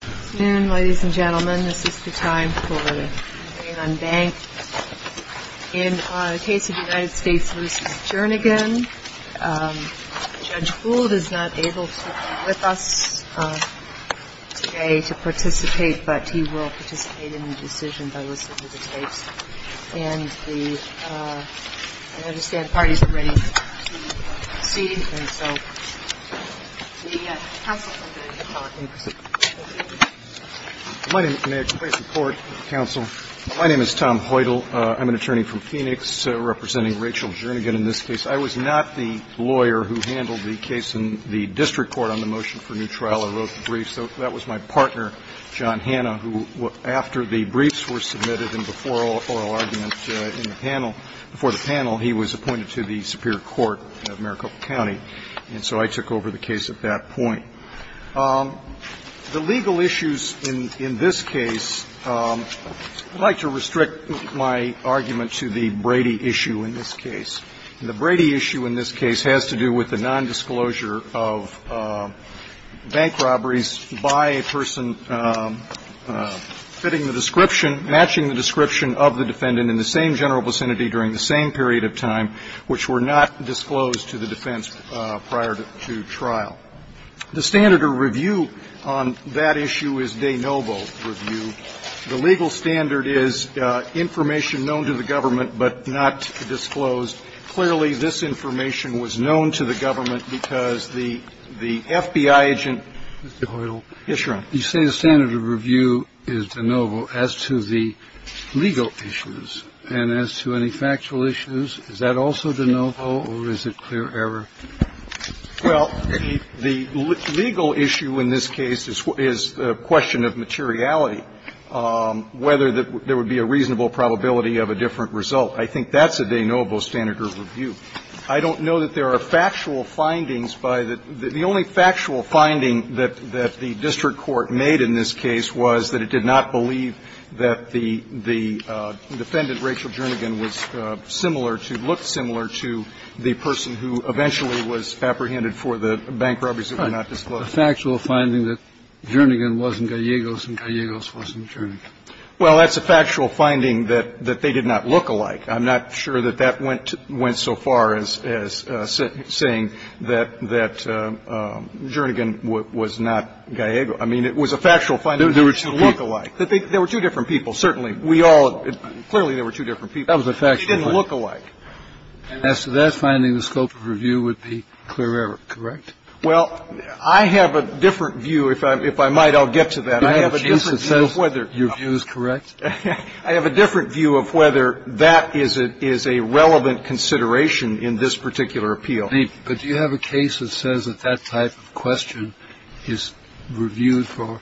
Good afternoon, ladies and gentlemen. This is the time for the campaign unbanked. In the case of the United States v. Jernigan, Judge Gould is not able to be with us today to participate, but he will participate in the decision by listening to the tapes. And I understand parties are ready to proceed. And so the counsel is going to give the floor. Thank you. My name is Tom Hoytel. I'm an attorney from Phoenix representing Rachel Jernigan in this case. I was not the lawyer who handled the case in the district court on the motion for a new trial. I wrote the brief. So that was my partner, John Hanna, who, after the briefs were submitted and before oral argument in the panel, before the panel, he was appointed to the superior court of Maricopa County. And so I took over the case at that point. The legal issues in this case, I'd like to restrict my argument to the Brady issue in this case. The Brady issue in this case has to do with the nondisclosure of bank robberies by a person fitting the description, matching the description of the defendant in the same general vicinity during the same period of time which were not disclosed to the defense prior to trial. The standard of review on that issue is de novo review. The legal standard is information known to the government but not disclosed. Clearly, this information was known to the government because the FBI agent ---- Mr. Hoytel. Yes, Your Honor. You say the standard of review is de novo as to the legal issues. And as to any factual issues, is that also de novo or is it clear error? Well, the legal issue in this case is the question of materiality, whether there would be a reasonable probability of a different result. I think that's a de novo standard of review. I don't know that there are factual findings by the ---- the only factual finding that the district court made in this case was that it did not believe that the defendant, Rachel Jernigan, was similar to, looked similar to the person who eventually was apprehended for the bank robberies that were not disclosed. The factual finding that Jernigan wasn't Gallegos and Gallegos wasn't Jernigan. Well, that's a factual finding that they did not look alike. I'm not sure that that went so far as saying that Jernigan was not Gallegos. I mean, it was a factual finding that they did not look alike. There were two different people, certainly. We all ---- clearly there were two different people. That was a factual finding. They didn't look alike. And as to that, finding the scope of review would be clear error, correct? Well, I have a different view. If I might, I'll get to that. I have a different view of whether ---- Do you have a case that says your view is correct? I have a different view of whether that is a relevant consideration in this particular appeal. But do you have a case that says that that type of question is reviewed for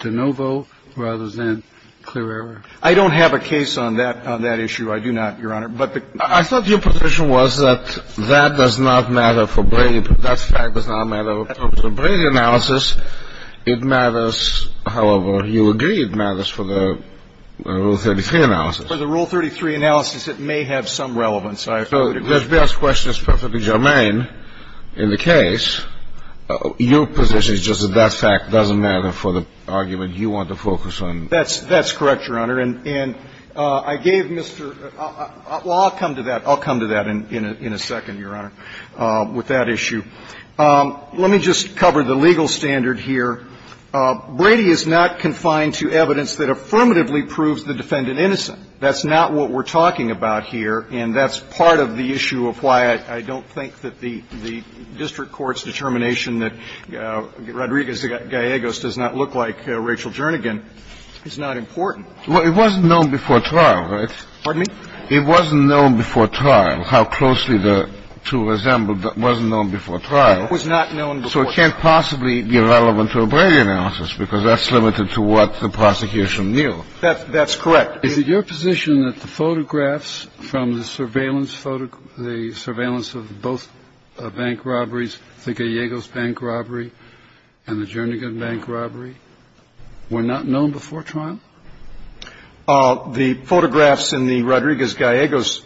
de novo rather than clear error? I don't have a case on that issue. I do not, Your Honor. But the ---- I thought your position was that that does not matter for Brady. That fact does not matter. In terms of Brady analysis, it matters. However, you agree it matters for the Rule 33 analysis. For the Rule 33 analysis, it may have some relevance. So let's be honest, the question is perfectly germane in the case. Your position is just that that fact doesn't matter for the argument you want to focus on. That's correct, Your Honor. And I gave Mr. ---- well, I'll come to that. I'll come to that in a second, Your Honor, with that issue. Let me just cover the legal standard here. Brady is not confined to evidence that affirmatively proves the defendant innocent. That's not what we're talking about here. And that's part of the issue of why I don't think that the district court's determination that Rodriguez-Gallegos does not look like Rachel Jernigan is not important. Well, it wasn't known before trial, right? Pardon me? It wasn't known before trial how closely the two resembled. It wasn't known before trial. It was not known before trial. So it can't possibly be relevant to a Brady analysis because that's limited to what the prosecution knew. That's correct. Is it your position that the photographs from the surveillance photo, the surveillance of both bank robberies, the Gallegos bank robbery and the Jernigan bank robbery, were not known before trial? The photographs in the Rodriguez-Gallegos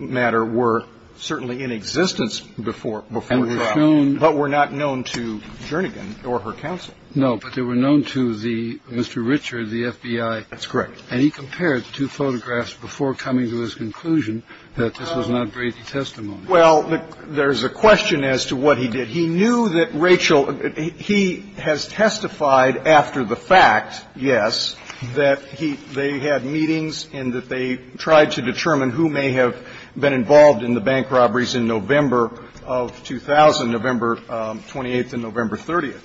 matter were certainly in existence before trial, but were not known to Jernigan or her counsel. No, but they were known to the Mr. Richard, the FBI. That's correct. And he compared the two photographs before coming to his conclusion that this was not Brady testimony. Well, there's a question as to what he did. He knew that Rachel – he has testified after the fact, yes, that he – they had meetings and that they tried to determine who may have been involved in the bank robberies in November of 2000, November 28th and November 30th.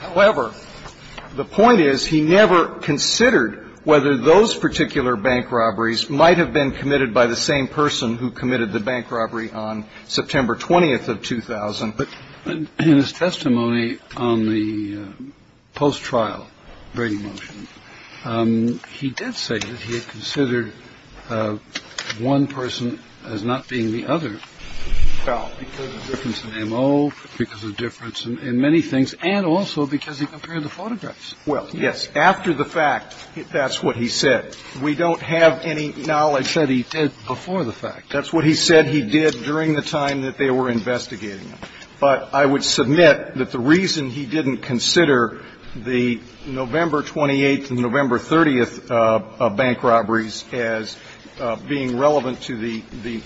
However, the point is he never considered whether those particular bank robberies might have been committed by the same person who committed the bank robbery on September 20th of 2000. But in his testimony on the post-trial Brady motion, he did say that he had considered one person as not being the other because of difference in M.O., because of difference in many things, and also because he compared the photographs. Well, yes. After the fact, that's what he said. We don't have any knowledge that he did before the fact. That's what he said he did during the time that they were investigating him. But I would submit that the reason he didn't consider the November 28th and November 30th bank robberies as being relevant to the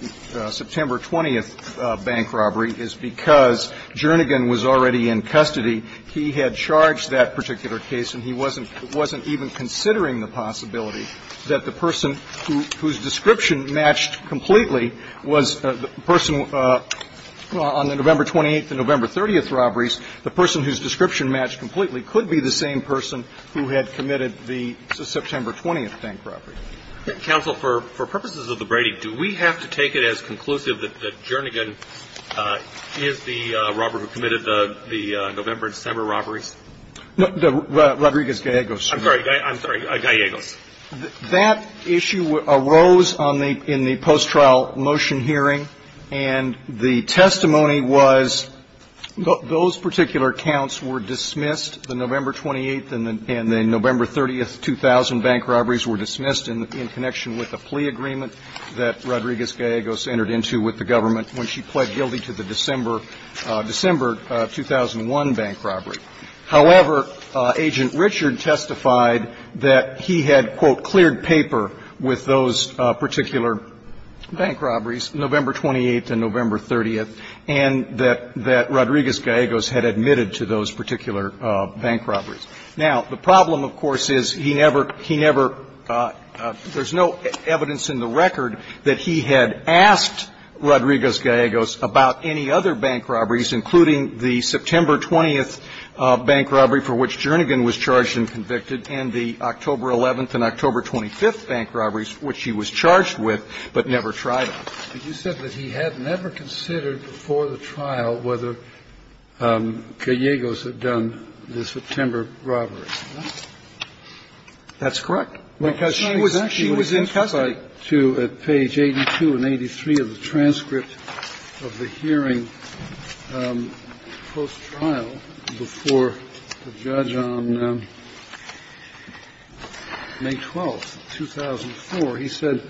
September 20th bank robbery is because Jernigan was already in custody. He had charged that particular case, and he wasn't even considering the possibility that the person whose description matched completely was the person on the November 28th and November 30th robberies. The person whose description matched completely could be the same person who had committed the September 20th bank robbery. Counsel, for purposes of the Brady, do we have to take it as conclusive that Jernigan is the robber who committed the November and December robberies? No. Rodriguez-Gallegos. I'm sorry. I'm sorry. Gallegos. That issue arose in the post-trial motion hearing, and the testimony was those particular accounts were dismissed. The November 28th and the November 30th, 2000 bank robberies were dismissed in connection with a plea agreement that Rodriguez-Gallegos entered into with the government when she pled guilty to the December 2001 bank robbery. However, Agent Richard testified that he had, quote, cleared paper with those particular bank robberies, November 28th and November 30th, and that Rodriguez-Gallegos had admitted to those particular bank robberies. Now, the problem, of course, is he never – he never – there's no evidence in the record that he had asked Rodriguez-Gallegos about any other bank robberies, including the September 20th bank robbery for which Jernigan was charged and convicted, and the October 11th and October 25th bank robberies for which he was charged with, but never tried them. But you said that he had never considered before the trial whether Gallegos had done the September robbery, correct? That's correct. Because she was in custody. But to – at page 82 and 83 of the transcript of the hearing post-trial, before the judge on May 12th, 2004, he said,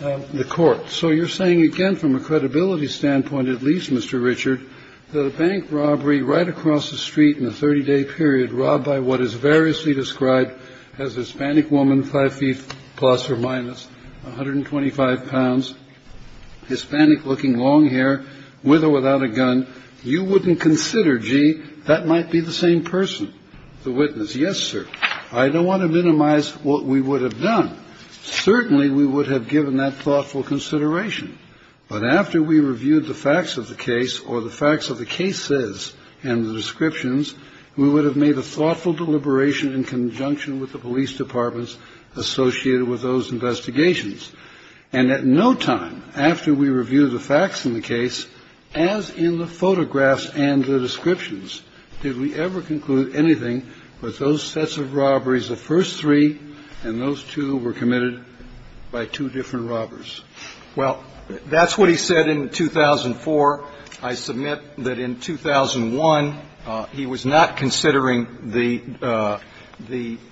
the court, so you're saying again from a credibility standpoint, at least, Mr. Richard, that a bank robbery right across the street in a 30-day period robbed by what is variously described as a Hispanic woman, 5 feet plus or minus, 125 pounds, Hispanic-looking, long hair, with or without a gun, you wouldn't consider, gee, that might be the same person, the witness? Yes, sir. I don't want to minimize what we would have done. Certainly, we would have given that thoughtful consideration. But after we reviewed the facts of the case or the facts of the cases and the descriptions, we would have made a thoughtful deliberation in conjunction with the police departments associated with those investigations. And at no time after we reviewed the facts in the case, as in the photographs and the descriptions, did we ever conclude anything but those sets of robberies, the first three, and those two were committed by two different robbers. Well, that's what he said in 2004. I submit that in 2001, he was not considering the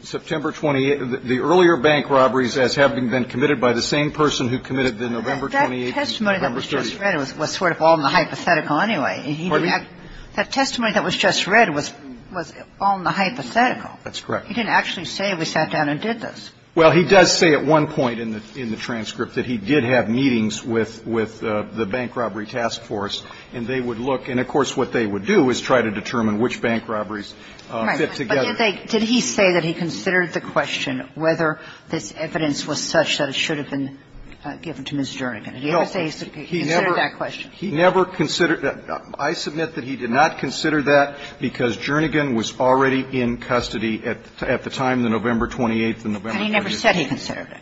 September 28th, the earlier bank robberies as having been committed by the same person who committed the November 28th and November 30th. That testimony that was just read was sort of all in the hypothetical anyway. Pardon me? That testimony that was just read was all in the hypothetical. That's correct. He didn't actually say we sat down and did this. Well, he does say at one point in the transcript that he did have meetings with the Bank Robbery Task Force, and they would look. And of course, what they would do is try to determine which bank robberies fit together. Right. But did he say that he considered the question whether this evidence was such that it should have been given to Ms. Jernigan? Did he ever say he considered that question? He never considered that. I submit that he did not consider that because Jernigan was already in custody at the time, the November 28th and November 30th. And he never said he considered it.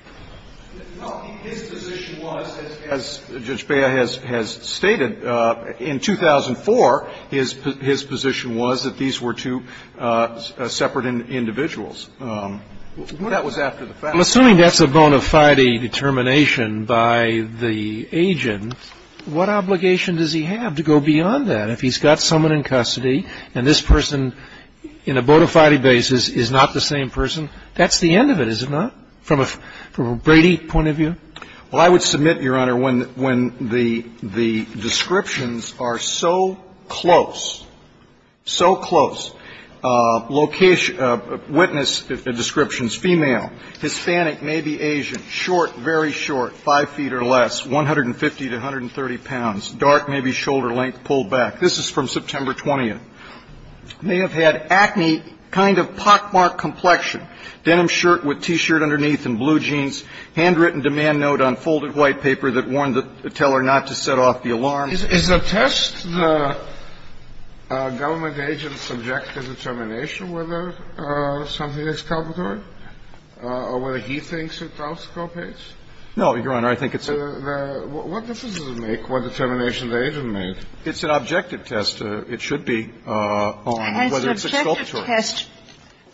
Well, his position was, as Judge Bea has stated, in 2004, his position was that these were two separate individuals. That was after the fact. Well, assuming that's a bona fide determination by the agent, what obligation does he have to go beyond that? If he's got someone in custody and this person, in a bona fide basis, is not the same person, that's the end of it, is it not, from a Brady point of view? Well, I would submit, Your Honor, when the descriptions are so close, so close, witness descriptions, female, Hispanic, maybe Asian, short, very short, 5 feet or less, 150 to 130 pounds, dark, maybe shoulder length, pulled back. This is from September 20th. And I would submit that he did not consider that because Jernigan was already in custody Well, assuming that's a bona fide determination by the agent, this person, in a bona fide basis, may have had acne, kind of pockmark complexion, denim shirt with T-shirt underneath and blue jeans, handwritten demand note on folded white paper that warned her to tell her not to set off the alarms. Is the test the government agent's objective determination whether something is exculpatory or whether he thinks it exculpates? No, Your Honor. I think it's a... What difference does it make what determination the agent made? It's an objective test. It should be on whether it's exculpatory. It's an objective test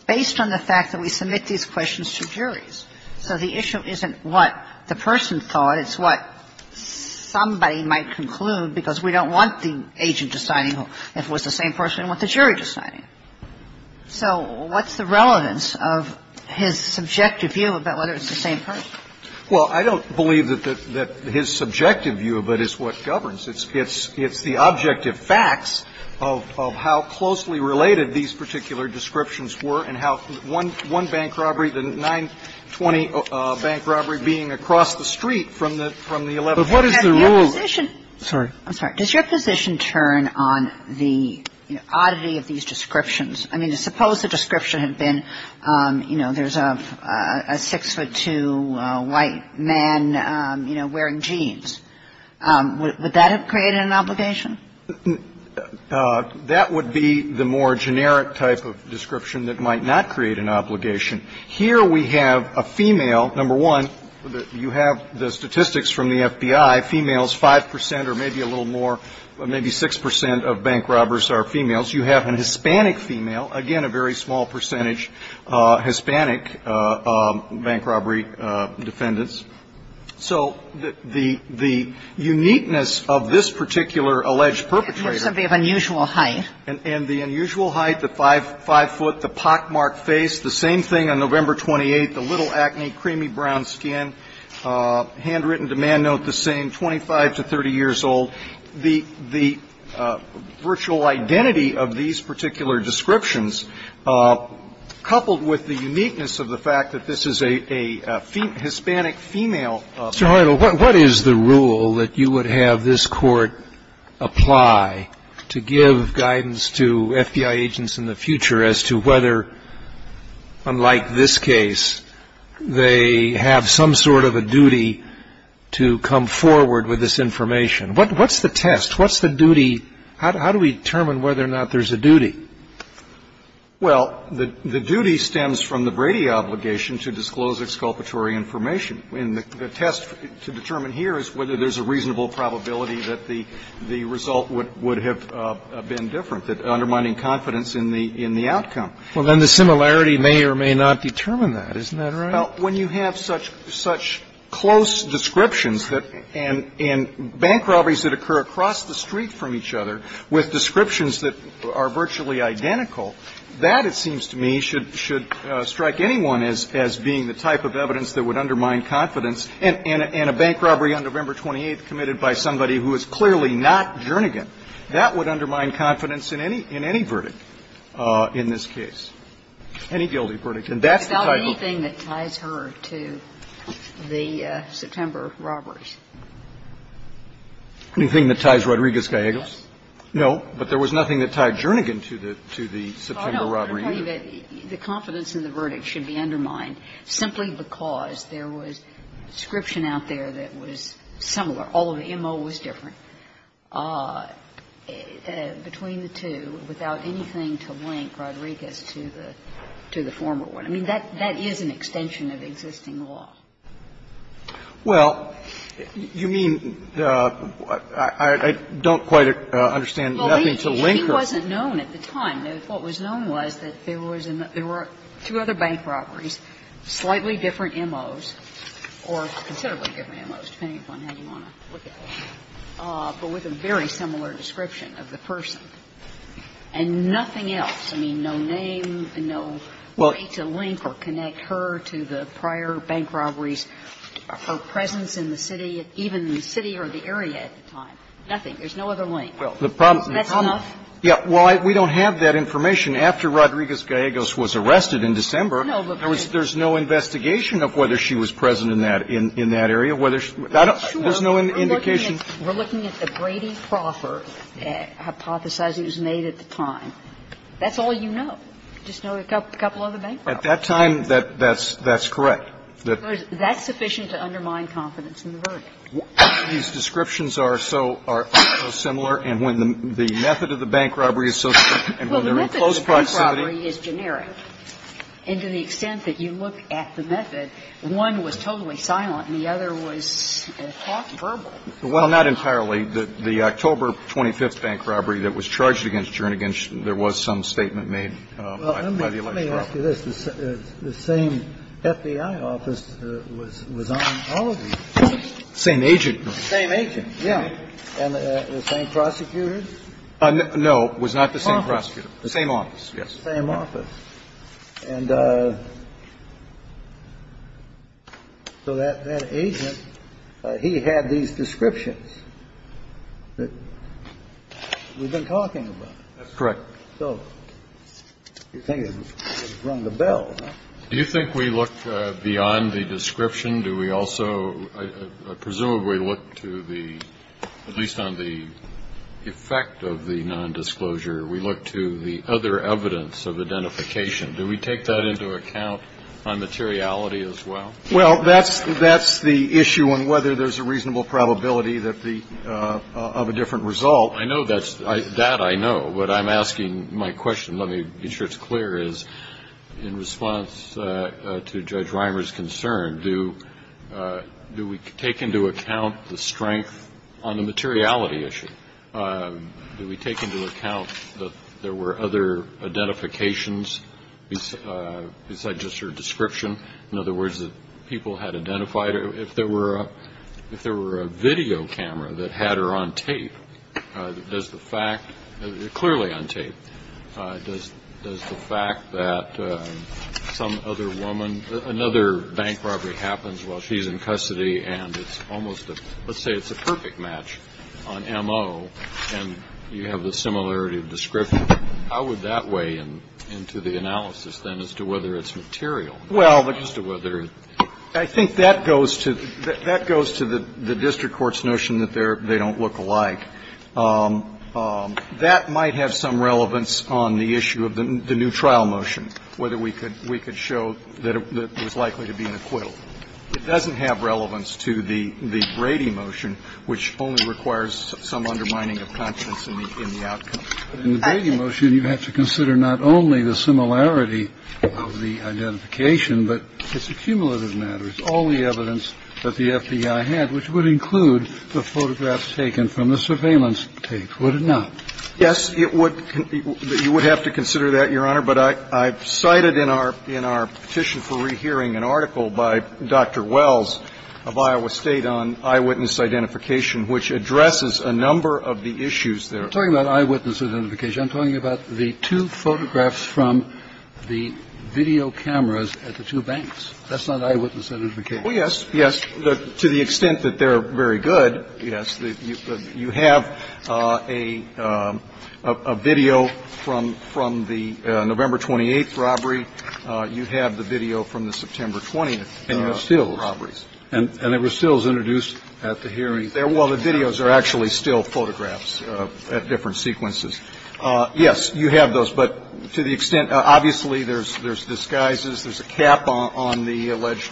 based on the fact that we submit these questions to juries. So the issue isn't what the person thought. It's what somebody might conclude because we don't want the agent deciding if it was the same person. We want the jury deciding. So what's the relevance of his subjective view about whether it's the same person? Well, I don't believe that his subjective view of it is what governs. It's the objective facts of how closely related these particular descriptions were and how one bank robbery, the 920 bank robbery being across the street from the 11th. But what is the rule? I'm sorry. Does your position turn on the oddity of these descriptions? I mean, suppose the description had been, you know, there's a 6'2 white man, you know, wearing jeans. Would that have created an obligation? That would be the more generic type of description that might not create an obligation. Here we have a female. Number one, you have the statistics from the FBI. Females, 5 percent or maybe a little more, maybe 6 percent of bank robbers are females. You have a Hispanic female. Again, a very small percentage Hispanic bank robbery defendants. So the uniqueness of this particular alleged perpetrator. It must have been of unusual height. And the unusual height, the 5'5", the pockmarked face, the same thing on November 28th, the little acne, creamy brown skin, handwritten demand note the same, 25 to 30 years old. The virtual identity of these particular descriptions, coupled with the uniqueness of the fact that this is a Hispanic female. Mr. Heidel, what is the rule that you would have this Court apply to give guidance to FBI agents in the future as to whether, unlike this case, they have some sort of a duty to come forward with this information? What's the test? What's the duty? How do we determine whether or not there's a duty? Well, the duty stems from the Brady obligation to disclose exculpatory information. And the test to determine here is whether there's a reasonable probability that the result would have been different, undermining confidence in the outcome. Well, then the similarity may or may not determine that. Isn't that right? Well, when you have such close descriptions that and bank robberies that occur across the street from each other with descriptions that are virtually identical, that, it seems to me, should strike anyone as being the type of evidence that would undermine confidence, and a bank robbery on November 28th committed by somebody who is clearly not Jernigan. That would undermine confidence in any verdict in this case, any guilty verdict. And that's the type of rule. Rodriguez-Giagos? No, but there was nothing that tied Jernigan to the September robbery. Well, I don't believe that the confidence in the verdict should be undermined simply because there was description out there that was similar. All of the M.O. was different. Between the two, without anything to link Rodriguez to the former one. I mean, that is an extension of existing law. Well, you mean, I don't quite understand nothing to link her. Well, he wasn't known at the time. What was known was that there were two other bank robberies, slightly different M.O.s, or considerably different M.O.s, depending on how you want to look at it. But with a very similar description of the person. And nothing else. I mean, no name, no way to link or connect her to the prior bank robbery. Her presence in the city, even the city or the area at the time. Nothing. There's no other link. That's enough? Yeah. Well, we don't have that information. After Rodriguez-Giagos was arrested in December, there was no investigation of whether she was present in that area, whether she was. There's no indication. We're looking at the Brady Crawford hypothesizing it was made at the time. That's all you know. Just know a couple other bank robberies. At that time, that's correct. That's sufficient to undermine confidence in the verdict. These descriptions are so similar, and when the method of the bank robbery is so similar and when they're in close proximity. Well, the method of the bank robbery is generic. And to the extent that you look at the method, one was totally silent and the other was talked verbal. Well, not entirely. The October 25th bank robbery that was charged against Jernigan, there was some statement made by the election office. Let me ask you this. The same FBI office was on all of these. Same agent. Same agent, yeah. And the same prosecutor? No. It was not the same prosecutor. The same office. The same office, yes. The same office. And so that agent, he had these descriptions that we've been talking about. That's correct. So you're thinking it's rung the bell, huh? Do you think we look beyond the description? Do we also presumably look to the, at least on the effect of the nondisclosure, we look to the other evidence of identification? Do we take that into account on materiality as well? Well, that's the issue on whether there's a reasonable probability of a different Well, I know that's, that I know. What I'm asking, my question, let me be sure it's clear, is in response to Judge Reimer's concern, do we take into account the strength on the materiality issue? Do we take into account that there were other identifications besides just her description? In other words, that people had identified her. If there were a video camera that had her on tape, does the fact, clearly on tape, does the fact that some other woman, another bank robbery happens while she's in custody and it's almost a, let's say it's a perfect match on M.O. and you have the similarity of description, how would that weigh into the analysis then as to whether it's material? Well, I think that goes to the district court's notion that they don't look alike. That might have some relevance on the issue of the new trial motion, whether we could show that it was likely to be an acquittal. It doesn't have relevance to the Brady motion, which only requires some undermining of conscience in the outcome. In the Brady motion, you have to consider not only the similarity of the identification, but it's a cumulative matter. It's all the evidence that the FBI had, which would include the photographs taken from the surveillance tape, would it not? Yes, it would. You would have to consider that, Your Honor. But I cited in our petition for rehearing an article by Dr. Wells of Iowa State on eyewitness identification, which addresses a number of the issues there. I'm not talking about eyewitness identification. I'm talking about the two photographs from the video cameras at the two banks. That's not eyewitness identification. Oh, yes, yes. To the extent that they're very good, yes. You have a video from the November 28th robbery. You have the video from the September 20th robbery. And you have stills. And there were stills introduced at the hearing. Well, the videos are actually still photographs at different sequences. Yes, you have those. But to the extent, obviously, there's disguises. There's a cap on the alleged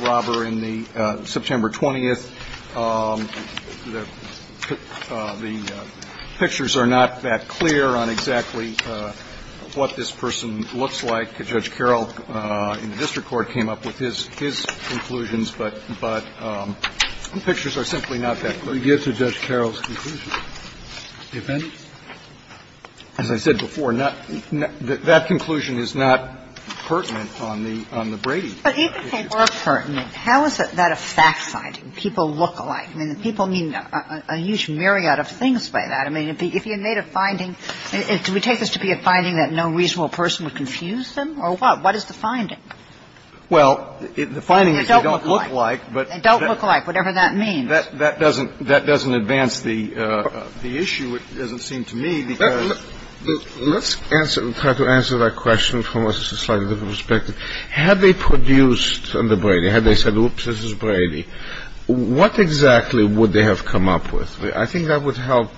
robber in the September 20th. The pictures are not that clear on exactly what this person looks like. Judge Carroll in the district court came up with his conclusions. But the pictures are simply not that clear. We give to Judge Carroll's conclusion. As I said before, that conclusion is not pertinent on the Brady case. But even if they were pertinent, how is that a fact-finding? People look alike. I mean, people mean a huge myriad of things by that. I mean, if you made a finding, do we take this to be a finding that no reasonable person would confuse them, or what? What is the finding? Well, the finding is they don't look alike. They don't look alike, whatever that means. That doesn't advance the issue, it doesn't seem to me, because the question is, had they produced the Brady, had they said, oops, this is Brady, what exactly would they have come up with? I think that would help.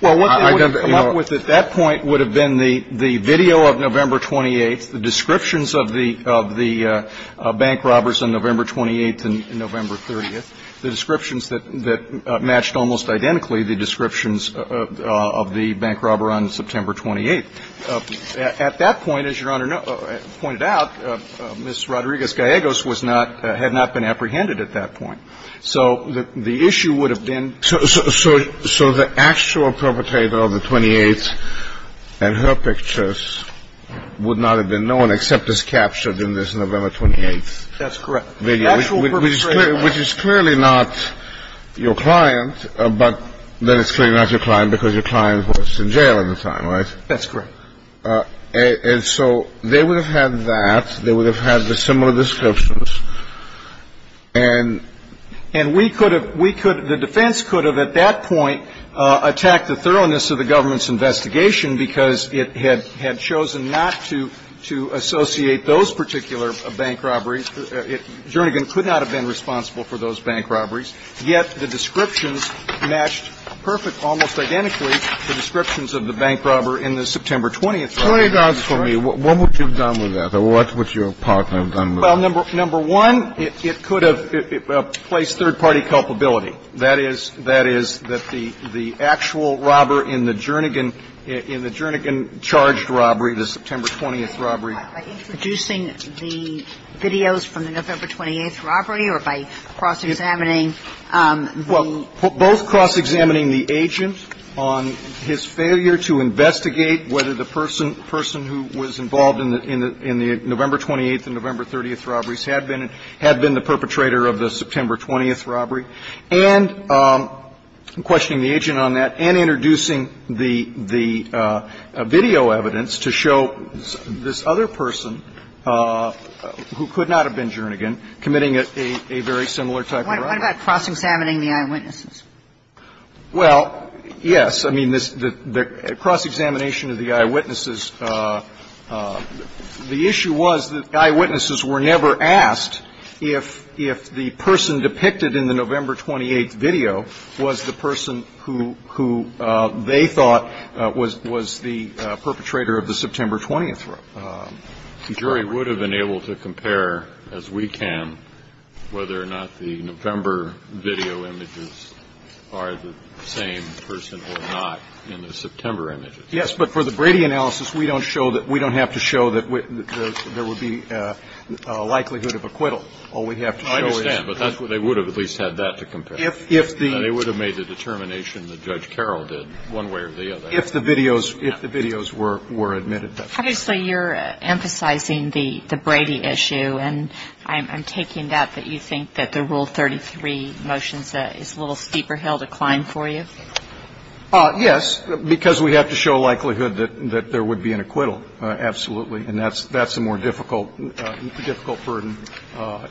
Well, what they would have come up with at that point would have been the video of November 28th, the descriptions of the bank robbers on November 28th and November 30th, the descriptions that matched almost identically the descriptions of the bank robber on September 28th. At that point, as Your Honor pointed out, Ms. Rodriguez-Gallegos was not, had not been apprehended at that point. So the issue would have been. So the actual perpetrator of the 28th and her pictures would not have been known except as captured in this November 28th video. That's correct. The actual perpetrator. Which is clearly not your client, but then it's clearly not your client because your client was in jail at the time, right? That's correct. And so they would have had that. They would have had the similar descriptions. And we could have, we could, the defense could have at that point attacked the thoroughness of the government's investigation because it had chosen not to associate those particular bank robberies. Jernigan could not have been responsible for those bank robberies, yet the descriptions matched perfect, almost identically, the descriptions of the bank robber in the September 20th video. Play it down for me. What would you have done with that? Or what would your partner have done with that? Well, number one, it could have placed third-party culpability. That is, that is, that the actual robber in the Jernigan, in the Jernigan-charged robbery, the September 20th robbery. By introducing the videos from the November 28th robbery or by cross-examining the agent? Well, both cross-examining the agent on his failure to investigate whether the person who was involved in the November 28th and November 30th robberies had been, had been the perpetrator of the September 20th robbery, and questioning the agent on that and introducing the video evidence to show this other person, who could not have been Jernigan, committing a very similar type of robbery. What about cross-examining the eyewitnesses? Well, yes. I mean, the cross-examination of the eyewitnesses, the issue was that eyewitnesses were never asked if the person depicted in the November 28th video was the person who they thought was the perpetrator of the September 20th robbery. The jury would have been able to compare, as we can, whether or not the November video images are the same person or not in the September images. Yes. But for the Brady analysis, we don't show that. We don't have to show that there would be a likelihood of acquittal. All we have to show is that. I understand. But that's what they would have at least had that to compare. If the. They would have made the determination that Judge Carroll did, one way or the other. If the videos, if the videos were admitted. Obviously, you're emphasizing the Brady issue. And I'm taking that, that you think that the Rule 33 motion is a little steeper hill to climb for you? Yes, because we have to show a likelihood that there would be an acquittal, absolutely. And that's the more difficult, difficult burden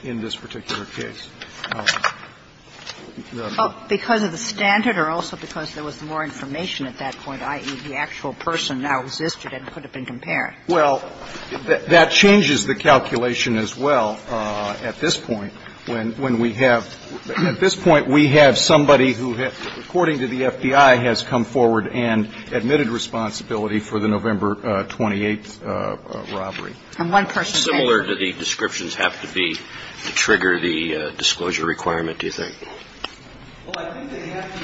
in this particular case. Because of the standard or also because there was more information at that point, i.e., the actual person now existed and could have been compared? Well, that changes the calculation as well at this point. When we have, at this point, we have somebody who, according to the FBI, has come forward and admitted responsibility for the November 28th robbery. And one person. Similar to the descriptions have to be to trigger the disclosure requirement, do you think? Well, I think they have to.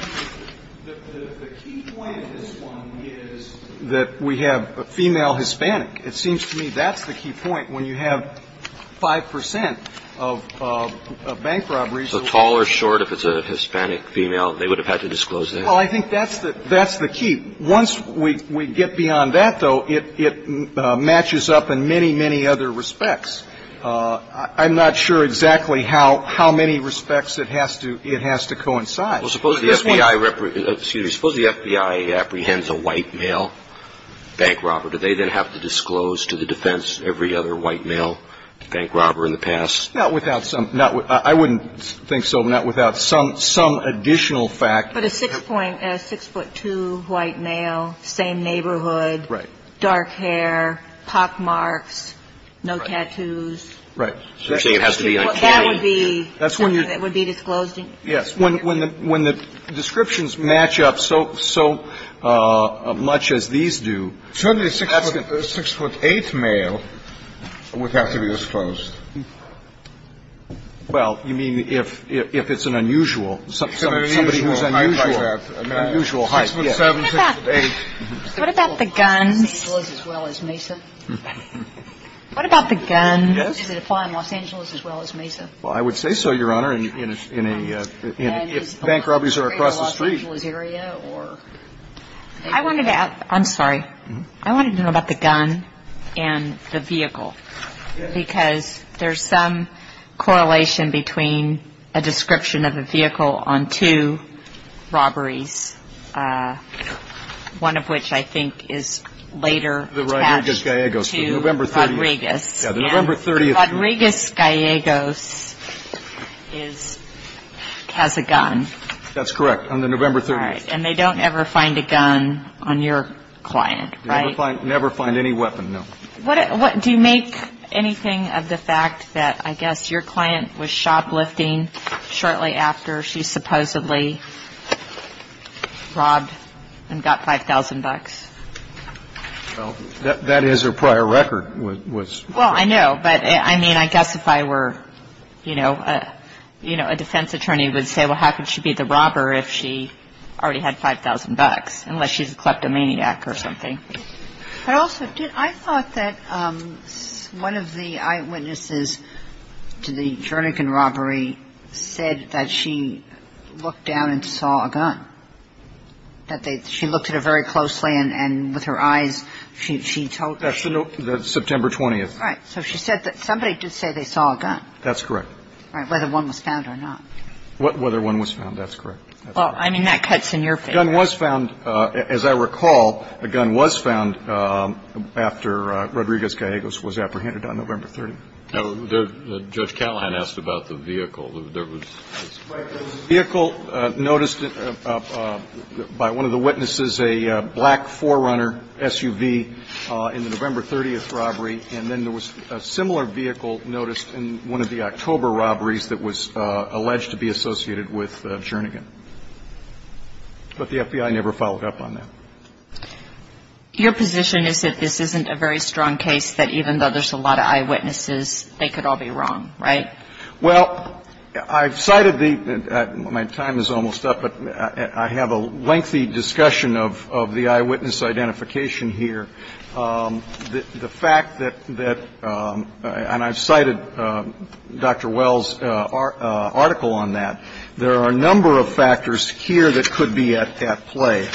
The key point of this one is that we have a female Hispanic. It seems to me that's the key point. When you have 5 percent of bank robberies. So tall or short, if it's a Hispanic female, they would have had to disclose that? Well, I think that's the key. Once we get beyond that, though, it matches up in many, many other respects. I'm not sure exactly how many respects it has to coincide. Suppose the FBI apprehends a white male bank robber, do they then have to disclose to the defense every other white male bank robber in the past? Not without some – I wouldn't think so, but not without some additional fact. But a 6.2 white male, same neighborhood. Right. So if you have a 6.7 male, it would have to be disclosed. And a 6.8 male would have to be disclosed. If they had dark hair, pock marks, no tattoos. Right. So you're saying it has to be uncanny? That would be something that would be disclosed. Yes. When the descriptions match up so much as these do, that's going to be disclosed. Certainly a 6.8 male would have to be disclosed. Well, you mean if it's an unusual, somebody who's unusual height. An unusual height, yes. What about the guns? What about the guns? Yes. Does it apply in Los Angeles as well as Mesa? Well, I would say so, Your Honor, in a – if bank robberies are across the street. I wanted to – I'm sorry. I wanted to know about the gun and the vehicle, because there's some correlation between a description of a vehicle on two robberies, one of which I think is later attached to Rodriguez. Yes, the November 30th. And Rodriguez Gallegos is – has a gun. That's correct. On the November 30th. All right. And they don't ever find a gun on your client, right? Never find any weapon, no. What – do you make anything of the fact that I guess your client was shoplifting shortly after she supposedly robbed and got 5,000 bucks? Well, that is her prior record was. Well, I know. But, I mean, I guess if I were, you know, a defense attorney would say, well, how could she be the robber if she already had 5,000 bucks, unless she's a kleptomaniac or something. But also, did – I thought that one of the eyewitnesses to the Jernigan robbery said that she looked down and saw a gun. That they – she looked at it very closely and with her eyes she told me. That's the September 20th. Right. So she said that somebody did say they saw a gun. That's correct. Right. Whether one was found or not. Whether one was found. That's correct. Well, I mean, that cuts in your favor. A gun was found, as I recall, a gun was found after Rodriguez Gallegos was apprehended on November 30th. Judge Callahan asked about the vehicle. Right. There was a vehicle noticed by one of the witnesses, a black 4Runner SUV, in the November 30th robbery. And then there was a similar vehicle noticed in one of the October robberies that was alleged to be associated with Jernigan. But the FBI never followed up on that. Your position is that this isn't a very strong case that even though there's a lot of eyewitnesses, they could all be wrong, right? Well, I've cited the – my time is almost up, but I have a lengthy discussion of the eyewitness identification here. The fact that – and I've cited Dr. Wells' article on that. There are a number of factors here that could be at play.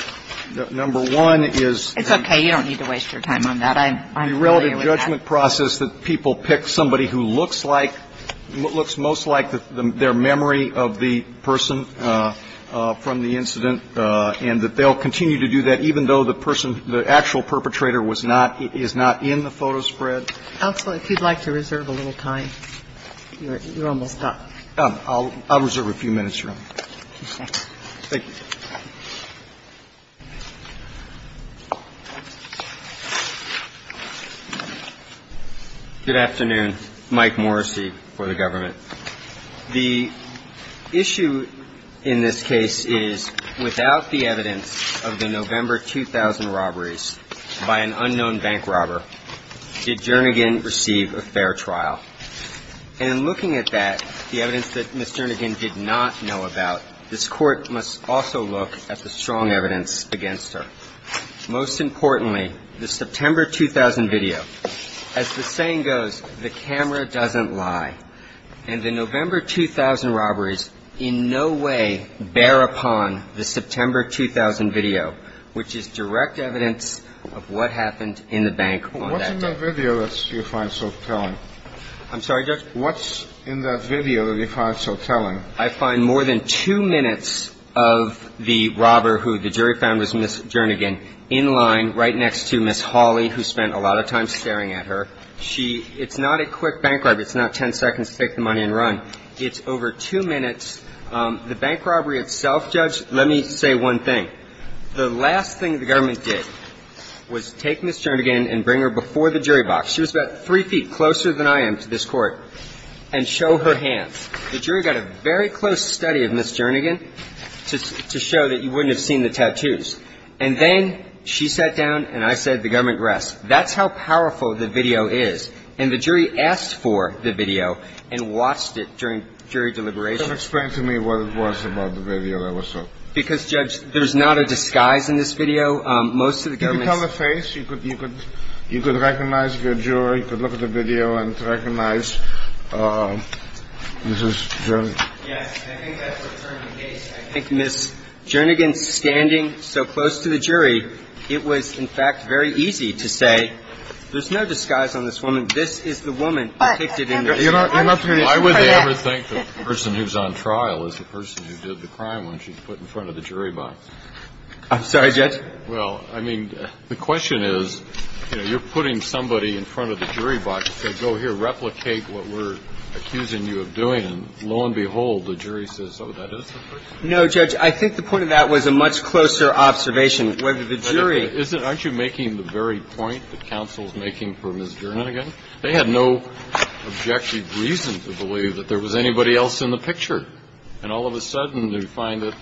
Number one is the – It's okay. You don't need to waste your time on that. I'm familiar with that. And number two is that the management process that people pick somebody who looks like – looks most like their memory of the person from the incident and that they'll continue to do that even though the person, the actual perpetrator was not – is not in the photo spread. Counsel, if you'd like to reserve a little time, you're almost up. I'll reserve a few minutes, Your Honor. Okay. Thank you. Good afternoon. Mike Morrissey for the government. The issue in this case is without the evidence of the November 2000 robberies by an unknown bank robber, did Jernigan receive a fair trial? And looking at that, the evidence that Ms. Jernigan did not know about, this Court must also look at the strong evidence against her. Most importantly, the September 2000 video. As the saying goes, the camera doesn't lie. And the November 2000 robberies in no way bear upon the September 2000 video, which is direct evidence of what happened in the bank on that day. What's in that video that you find so telling? I'm sorry, Judge? What's in that video that you find so telling? I find more than two minutes of the robber who the jury found was Ms. Jernigan in line right next to Ms. Hawley, who spent a lot of time staring at her. She – it's not a quick bank robbery. It's not ten seconds to take the money and run. It's over two minutes. The bank robbery itself, Judge, let me say one thing. The last thing the government did was take Ms. Jernigan and bring her before the jury box. She was about three feet closer than I am to this Court, and show her hands. The jury got a very close study of Ms. Jernigan to show that you wouldn't have seen the tattoos. And then she sat down, and I said the government rests. That's how powerful the video is. And the jury asked for the video and watched it during jury deliberation. Explain to me what it was about the video that was so – Because, Judge, there's not a disguise in this video. Most of the government's – You could tell the face. You could recognize the jury. You could look at the video and recognize Mrs. Jernigan. Yes. And I think that's what turned the case. I think Ms. Jernigan standing so close to the jury, it was, in fact, very easy to say, there's no disguise on this woman. This is the woman depicted in this video. I'm not going to – I would never think the person who's on trial is the person who did the crime when she's put in front of the jury box. I'm sorry, Judge? Well, I mean, the question is, you know, you're putting somebody in front of the jury box to say, go here, replicate what we're accusing you of doing. And lo and behold, the jury says, oh, that is the person. No, Judge, I think the point of that was a much closer observation. Whether the jury – Isn't it? Aren't you making the very point that counsel's making for Ms. Jernigan? And all of a sudden, you find that,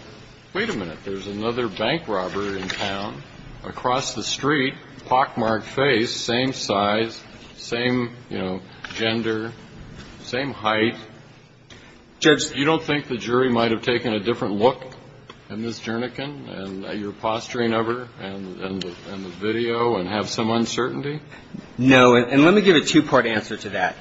wait a minute, there's another bank robber in town across the street, pockmarked face, same size, same, you know, gender, same height. Judge? You don't think the jury might have taken a different look at Ms. Jernigan and your posturing of her and the video and have some uncertainty? No. And let me give a two-part answer to that.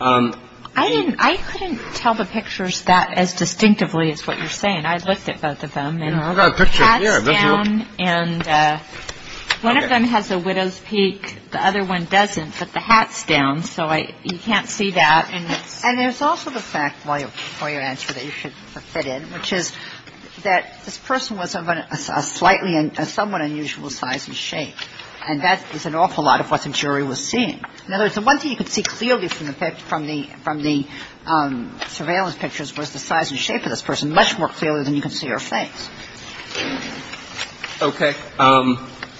I didn't – I couldn't tell the pictures that as distinctively as what you're saying. I looked at both of them. I've got a picture here. And one of them has a widow's peak. The other one doesn't, but the hat's down, so I – you can't see that. And there's also the fact, before you answer, that you should fit in, which is that this person was of a slightly – a somewhat unusual size and shape. And that is an awful lot of what the jury was seeing. In other words, the one thing you could see clearly from the – from the surveillance pictures was the size and shape of this person much more clearly than you could see her face. Okay.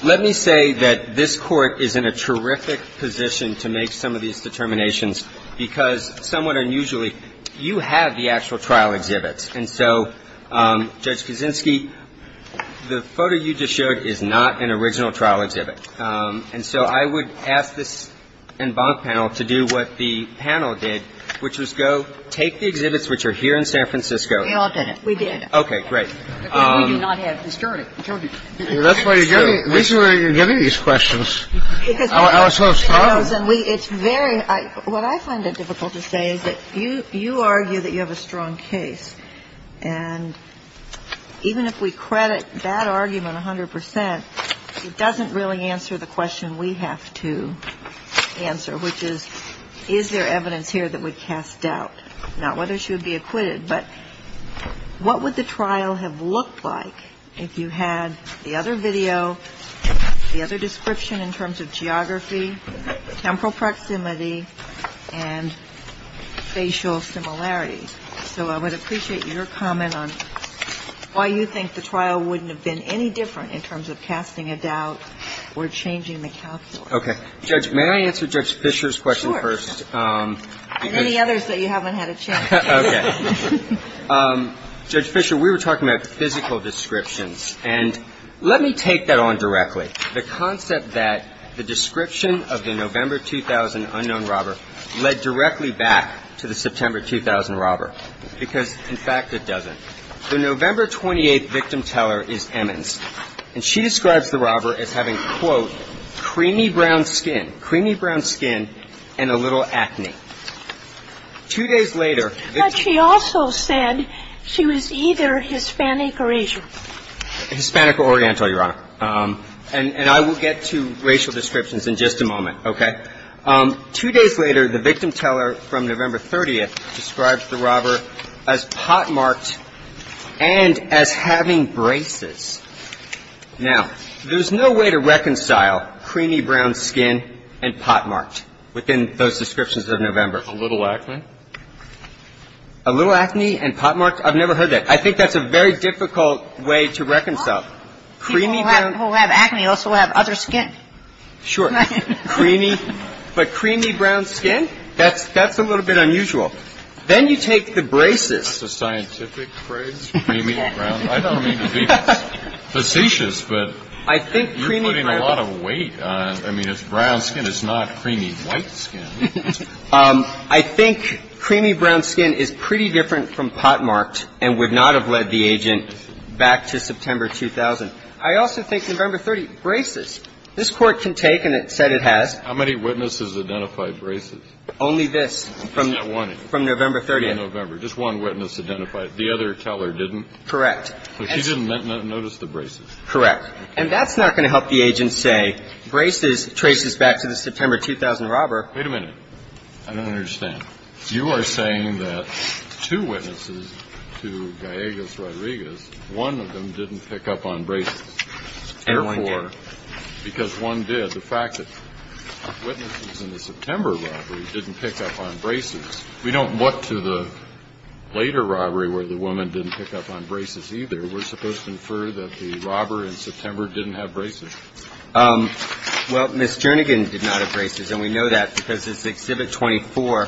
Let me say that this Court is in a terrific position to make some of these determinations because somewhat unusually, you have the actual trial exhibits. And so, Judge Kuczynski, the photo you just showed is not an original trial exhibit. And so I would ask this en banc panel to do what the panel did, which was go take the exhibits which are here in San Francisco. We all did it. We did. Okay. Great. But we do not have this jury. I told you. That's why you're giving – that's why you're giving these questions. I was so startled. It's very – what I find it difficult to say is that you argue that you have a strong case. And even if we credit that argument 100 percent, it doesn't really answer the question we have to answer, which is, is there evidence here that would cast doubt? Not whether she would be acquitted, but what would the trial have looked like if you had the other video, the other description in terms of geography, temporal proximity, and facial similarity? So I would appreciate your comment on why you think the trial wouldn't have been any different in terms of casting a doubt or changing the calculus. Okay. Judge, may I answer Judge Fisher's question first? Sure. And any others that you haven't had a chance to. Okay. Judge Fisher, we were talking about physical descriptions. And let me take that on directly. The concept that the description of the November 2000 unknown robber led directly back to the September 2000 robber. Because, in fact, it doesn't. The November 28th victim teller is Emmons. And she describes the robber as having, quote, creamy brown skin, creamy brown skin and a little acne. Two days later – But she also said she was either Hispanic or Asian. Hispanic or Oriental, Your Honor. And I will get to racial descriptions in just a moment. Okay. Two days later, the victim teller from November 30th describes the robber as pot-marked and as having braces. Now, there's no way to reconcile creamy brown skin and pot-marked within those descriptions of November. A little acne. A little acne and pot-marked? I've never heard that. I think that's a very difficult way to reconcile. People who have acne also have other skin. Sure. Creamy. But creamy brown skin? That's a little bit unusual. Then you take the braces. That's a scientific phrase, creamy brown. I don't mean to be facetious, but you're putting a lot of weight on it. I mean, it's brown skin. It's not creamy white skin. I think creamy brown skin is pretty different from pot-marked and would not have led the agent back to September 2000. I also think November 30th, braces. This Court can take, and it said it has. How many witnesses identified braces? Only this. Just that one. From November 30th. From November. Just one witness identified it. The other teller didn't? Correct. So she didn't notice the braces? Correct. And that's not going to help the agent say braces traces back to the September 2000 robber. Wait a minute. I don't understand. You are saying that two witnesses to Gallegos-Rodriguez, one of them didn't pick up on braces. And one did. Because one did. The fact that witnesses in the September robbery didn't pick up on braces, we don't look to the later robbery where the woman didn't pick up on braces either. We're supposed to infer that the robber in September didn't have braces. Well, Ms. Jernigan did not have braces, and we know that because it's Exhibit 24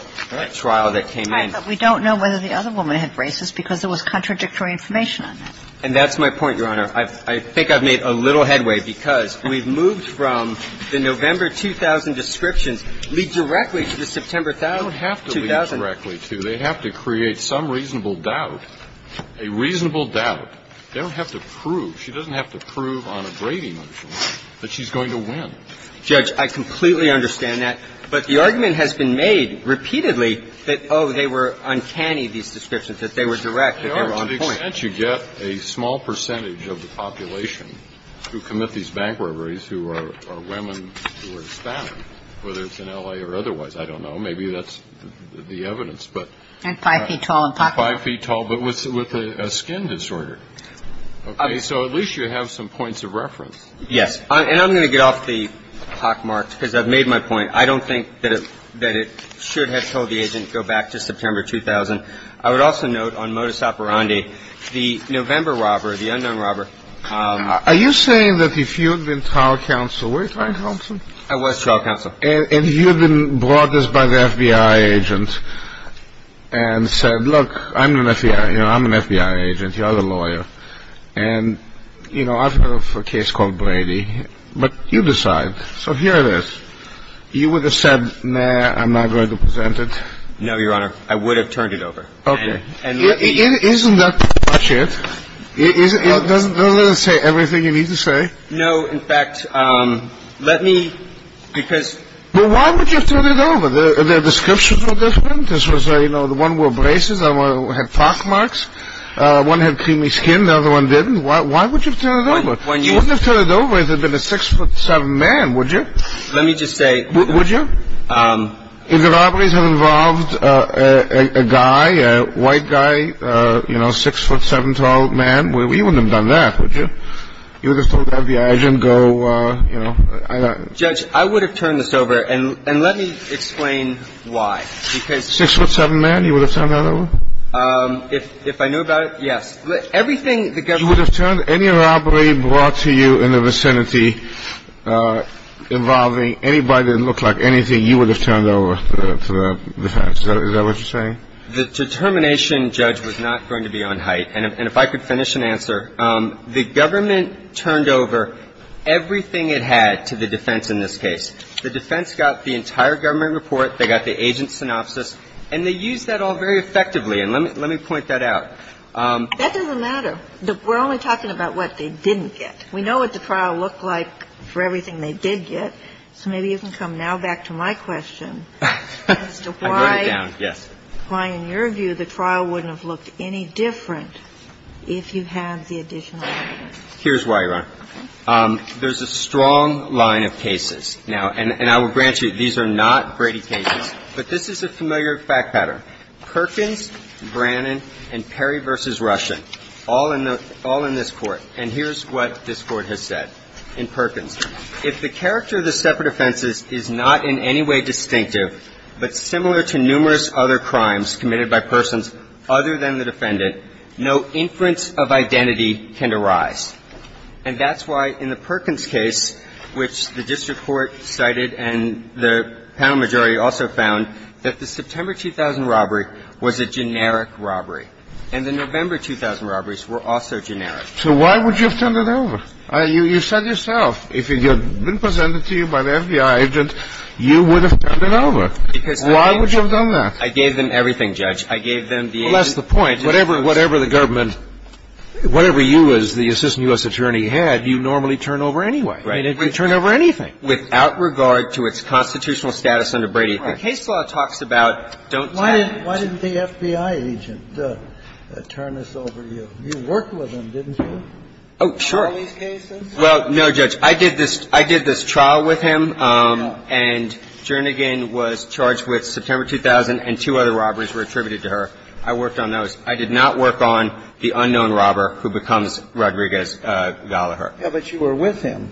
trial that came in. Right. But we don't know whether the other woman had braces because there was contradictory information on that. And that's my point, Your Honor. I think I've made a little headway because we've moved from the November 2000 descriptions lead directly to the September 2000. They don't have to lead directly to. They have to create some reasonable doubt, a reasonable doubt. They don't have to prove. She doesn't have to prove on a gravy motion that she's going to win. Judge, I completely understand that. But the argument has been made repeatedly that, oh, they were uncanny, these descriptions, that they were direct, that they were on point. Can't you get a small percentage of the population who commit these bank robberies who are women who are Hispanic, whether it's in L.A. or otherwise? I don't know. Maybe that's the evidence. And five feet tall and pockmarked. Five feet tall, but with a skin disorder. Okay. So at least you have some points of reference. Yes. And I'm going to get off the pockmarked because I've made my point. I don't think that it should have told the agent to go back to September 2000. I would also note on modus operandi, the November robber, the unknown robber. Are you saying that if you had been trial counsel, were you trial counsel? I was trial counsel. And you had been brought this by the FBI agent and said, look, I'm an FBI agent. You are the lawyer. And, you know, I've heard of a case called Brady. But you decide. So here it is. You would have said, nah, I'm not going to present it? No, Your Honor. I would have turned it over. Okay. Isn't that pretty much it? Doesn't it say everything you need to say? No. In fact, let me, because. Well, why would you have turned it over? The descriptions were different. This was, you know, the one wore braces. The other one had pockmarks. One had creamy skin. The other one didn't. Why would you have turned it over? You wouldn't have turned it over if it had been a six foot seven man, would you? Let me just say. Would you? If the robberies had involved a guy, a white guy, you know, six foot seven tall man, you wouldn't have done that, would you? You would have told the FBI agent, go, you know. Judge, I would have turned this over. And let me explain why. Six foot seven man, you would have turned that over? If I knew about it, yes. Everything the government. You would have turned any robbery brought to you in the vicinity involving anybody that looked like anything you would have turned over to the defense. Is that what you're saying? The determination, Judge, was not going to be on height. And if I could finish and answer. The government turned over everything it had to the defense in this case. The defense got the entire government report. They got the agent's synopsis. And they used that all very effectively. And let me point that out. That doesn't matter. We're only talking about what they didn't get. We know what the trial looked like for everything they did get. So maybe you can come now back to my question as to why. I wrote it down, yes. Why, in your view, the trial wouldn't have looked any different if you had the additional evidence. Here's why, Your Honor. There's a strong line of cases now. And I will grant you, these are not Brady cases. But this is a familiar fact pattern. Perkins, Brannon, and Perry v. Russian, all in this Court. And here's what this Court has said in Perkins. If the character of the separate offenses is not in any way distinctive, but similar to numerous other crimes committed by persons other than the defendant, no inference of identity can arise. And that's why in the Perkins case, which the district court cited and the panel majority also found, that the September 2000 robbery was a generic robbery. And the November 2000 robberies were also generic. So why would you have turned it over? You said yourself, if it had been presented to you by the FBI agent, you would have turned it over. Why would you have done that? I gave them everything, Judge. I gave them the agent. Well, that's the point. Whatever the government, whatever you as the assistant U.S. attorney had, you normally turn over anyway. You turn over anything. Without regard to its constitutional status under Brady. The case law talks about don't turn it over. Why didn't the FBI agent turn this over to you? You worked with him, didn't you? Oh, sure. Well, no, Judge. I did this trial with him. And Jernigan was charged with September 2000 and two other robberies were attributed to her. I worked on those. I did not work on the unknown robber who becomes Rodriguez-Gallaher. Yeah, but you were with him,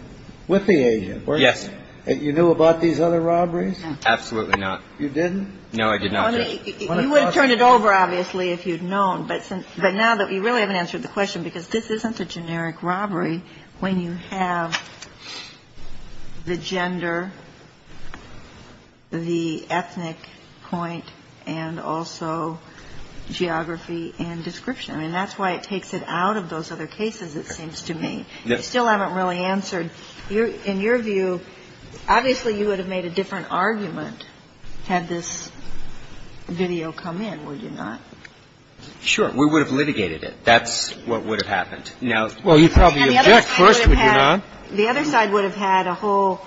with the agent. Yes. You knew about these other robberies? Absolutely not. You didn't? No, I did not, Judge. You would have turned it over, obviously, if you'd known. But now that we really haven't answered the question, because this isn't a generic robbery when you have the gender, the ethnic point, and also geography and description. I mean, that's why it takes it out of those other cases, it seems to me. I still haven't really answered. In your view, obviously you would have made a different argument had this video come in, would you not? Sure. We would have litigated it. That's what would have happened. Well, you'd probably object first, would you not? The other side would have had a whole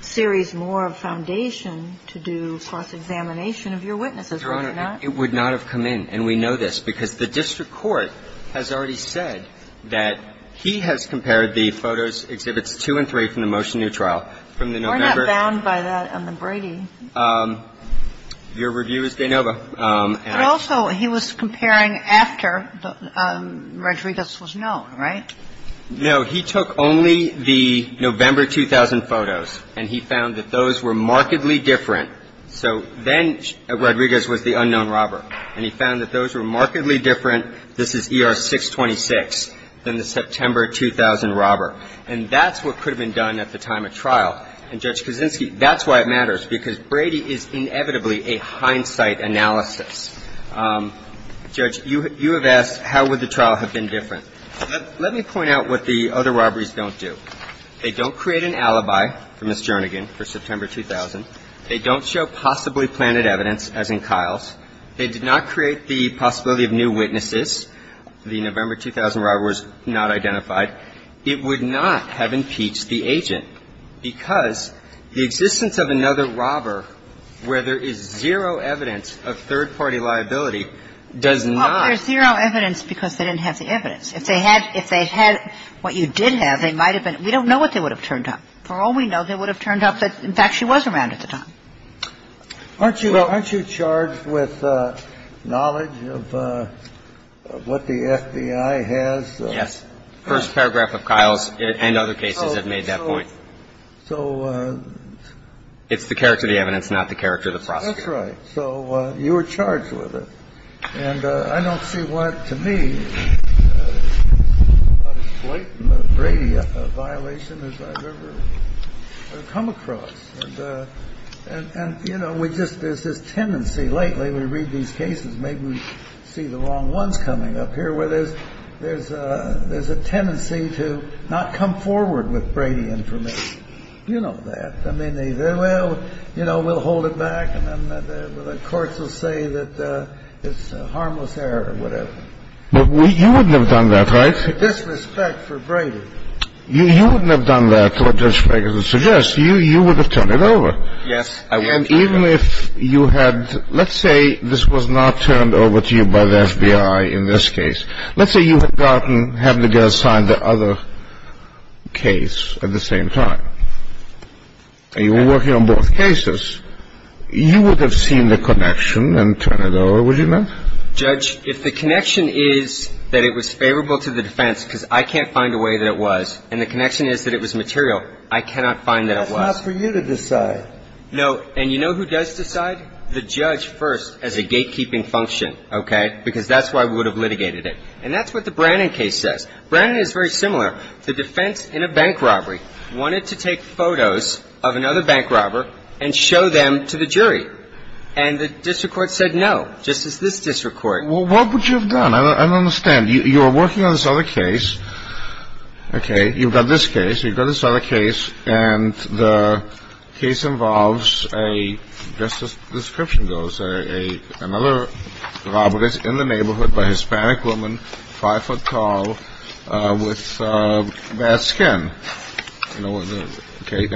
series more of foundation to do cross-examination of your witnesses, would you not? Your Honor, it would not have come in. And we know this because the district court has already said that he has compared the photos, Exhibits 2 and 3, from the Motion to New Trial from the November. We're not bound by that. I'm a Brady. Your review is de novo. But also he was comparing after Rodriguez was known, right? No. He took only the November 2000 photos, and he found that those were markedly different. So then Rodriguez was the unknown robber, and he found that those were markedly different, this is ER 626, than the September 2000 robber. And that's what could have been done at the time of trial. And Judge Kaczynski, that's why it matters, because Brady is inevitably a hindsight analysis. Judge, you have asked how would the trial have been different. Let me point out what the other robberies don't do. They don't create an alibi for Ms. Jernigan for September 2000. They don't show possibly planted evidence, as in Kyle's. They did not create the possibility of new witnesses. The November 2000 robber was not identified. It would not have impeached the agent. Because the existence of another robber where there is zero evidence of third-party liability does not. Well, there's zero evidence because they didn't have the evidence. If they had what you did have, they might have been. We don't know what they would have turned up. For all we know, they would have turned up that, in fact, she was around at the time. Aren't you charged with knowledge of what the FBI has? Yes. First paragraph of Kyle's and other cases have made that point. So it's the character of the evidence, not the character of the prosecutor. That's right. So you were charged with it. And I don't see what to me is as blatant a Brady violation as I've ever come across. And, you know, we just – there's this tendency lately when we read these cases, maybe we see the wrong ones coming up here, where there's a tendency to not come forward with Brady information. You know that. I mean, they say, well, you know, we'll hold it back, and then the courts will say that it's a harmless error or whatever. But you wouldn't have done that, right? With disrespect for Brady. You wouldn't have done that, what Judge Sprague is suggesting. You would have turned it over. Yes, I would have turned it over. And even if you had – let's say this was not turned over to you by the FBI in this case. Let's say you had gotten – had the judge sign the other case at the same time. And you were working on both cases. You would have seen the connection and turned it over, would you not? Judge, if the connection is that it was favorable to the defense because I can't find a way that it was, and the connection is that it was material, I cannot find that it was. That's not for you to decide. No. And you know who does decide? The judge first as a gatekeeping function, okay, because that's why we would have litigated it. And that's what the Brannon case says. Brannon is very similar. The defense in a bank robbery wanted to take photos of another bank robber and show them to the jury. And the district court said no, just as this district court. Well, what would you have done? I don't understand. You were working on this other case, okay. You've got this case. You've got this other case. And the case involves a, just as the description goes, another robbery in the neighborhood by a Hispanic woman, 5-foot tall, with bad skin. Okay.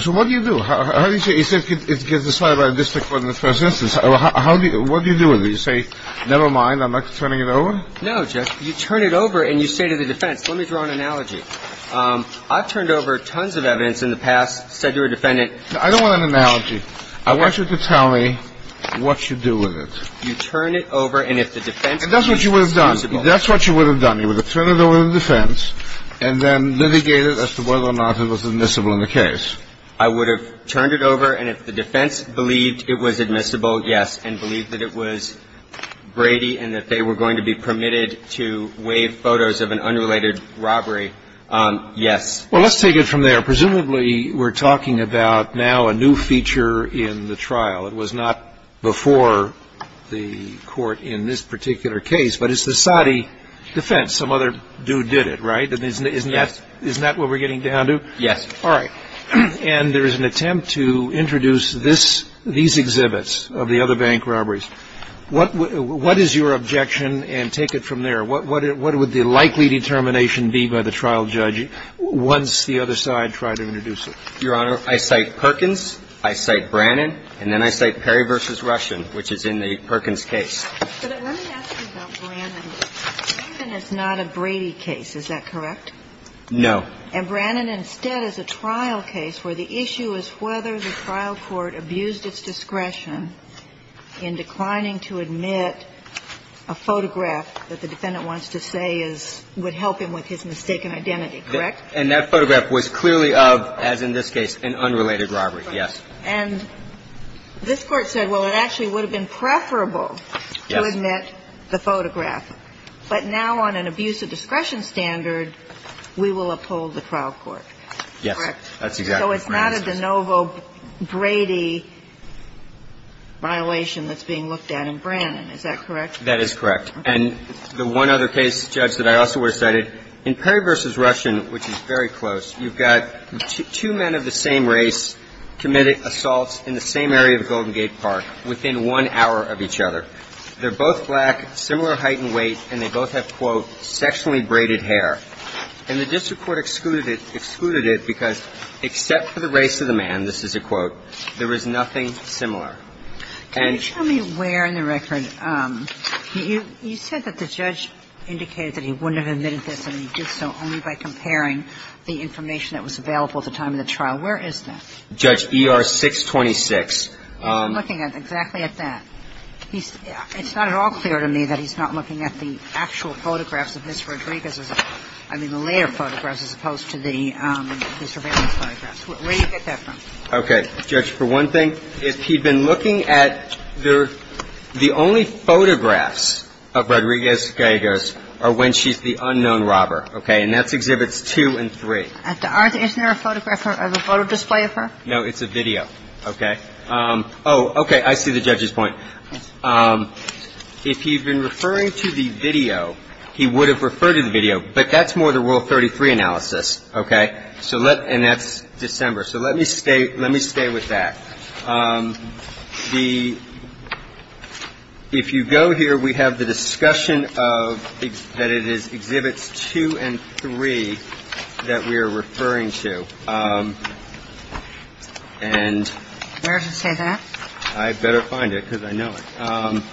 So what do you do? How do you say it gets decided by a district court in the first instance? What do you do with it? Do you say, never mind, I'm not turning it over? No, Judge. You turn it over and you say to the defense, let me draw an analogy. I've turned over tons of evidence in the past, said to a defendant. I don't want an analogy. I want you to tell me what you do with it. You turn it over and if the defense believes it's admissible. And that's what you would have done. That's what you would have done. You would have turned it over to the defense and then litigated as to whether or not it was admissible in the case. I would have turned it over and if the defense believed it was admissible, yes, and believed that it was Brady and that they were going to be permitted to waive photos of an unrelated robbery, yes. Well, let's take it from there. Presumably we're talking about now a new feature in the trial. It was not before the court in this particular case, but it's the Saudi defense. Some other dude did it, right? Yes. Isn't that what we're getting down to? Yes. All right. And there is an attempt to introduce this, these exhibits of the other bank robberies. What is your objection? And take it from there. What would the likely determination be by the trial judge once the other side tried to introduce it? Your Honor, I cite Perkins. I cite Brannan. And then I cite Perry v. Russian, which is in the Perkins case. But let me ask you about Brannan. Perkins is not a Brady case. Is that correct? No. And Brannan instead is a trial case where the issue is whether the trial court abused its discretion in declining to admit a photograph that the defendant wants to say would help him with his mistaken identity, correct? And that photograph was clearly of, as in this case, an unrelated robbery, yes. And this Court said, well, it actually would have been preferable to admit the photograph. But now on an abuse of discretion standard, we will uphold the trial court, correct? Yes. That's exactly right. So it's not a de novo Brady violation that's being looked at in Brannan. Is that correct? That is correct. And the one other case, Judge, that I also would have cited, in Perry v. Russian, which is very close, you've got two men of the same race committing assaults in the same area of Golden Gate Park within one hour of each other. They're both black, similar height and weight, and they both have, quote, sexually braided hair. And the district court excluded it because, except for the race of the man, this is a quote, there was nothing similar. Can you tell me where in the record? You said that the judge indicated that he wouldn't have admitted this and he did so only by comparing the information that was available at the time of the trial. Where is that? Judge E.R. 626. I'm looking at exactly at that. It's not at all clear to me that he's not looking at the actual photographs of Ms. Rodriguez's, I mean, the later photographs as opposed to the surveillance photographs. Where do you get that from? Okay. Judge, for one thing, if he'd been looking at the only photographs of Rodriguez Gallegos are when she's the unknown robber. Okay? And that's Exhibits 2 and 3. Is there a photograph of a photo display of her? No. It's a video. Okay. Oh, okay. I see the judge's point. If he'd been referring to the video, he would have referred to the video, but that's more the Rule 33 analysis. Okay? And that's December. So let me stay with that. If you go here, we have the discussion that it is Exhibits 2 and 3 that we are referring to. And I better find it because I know it.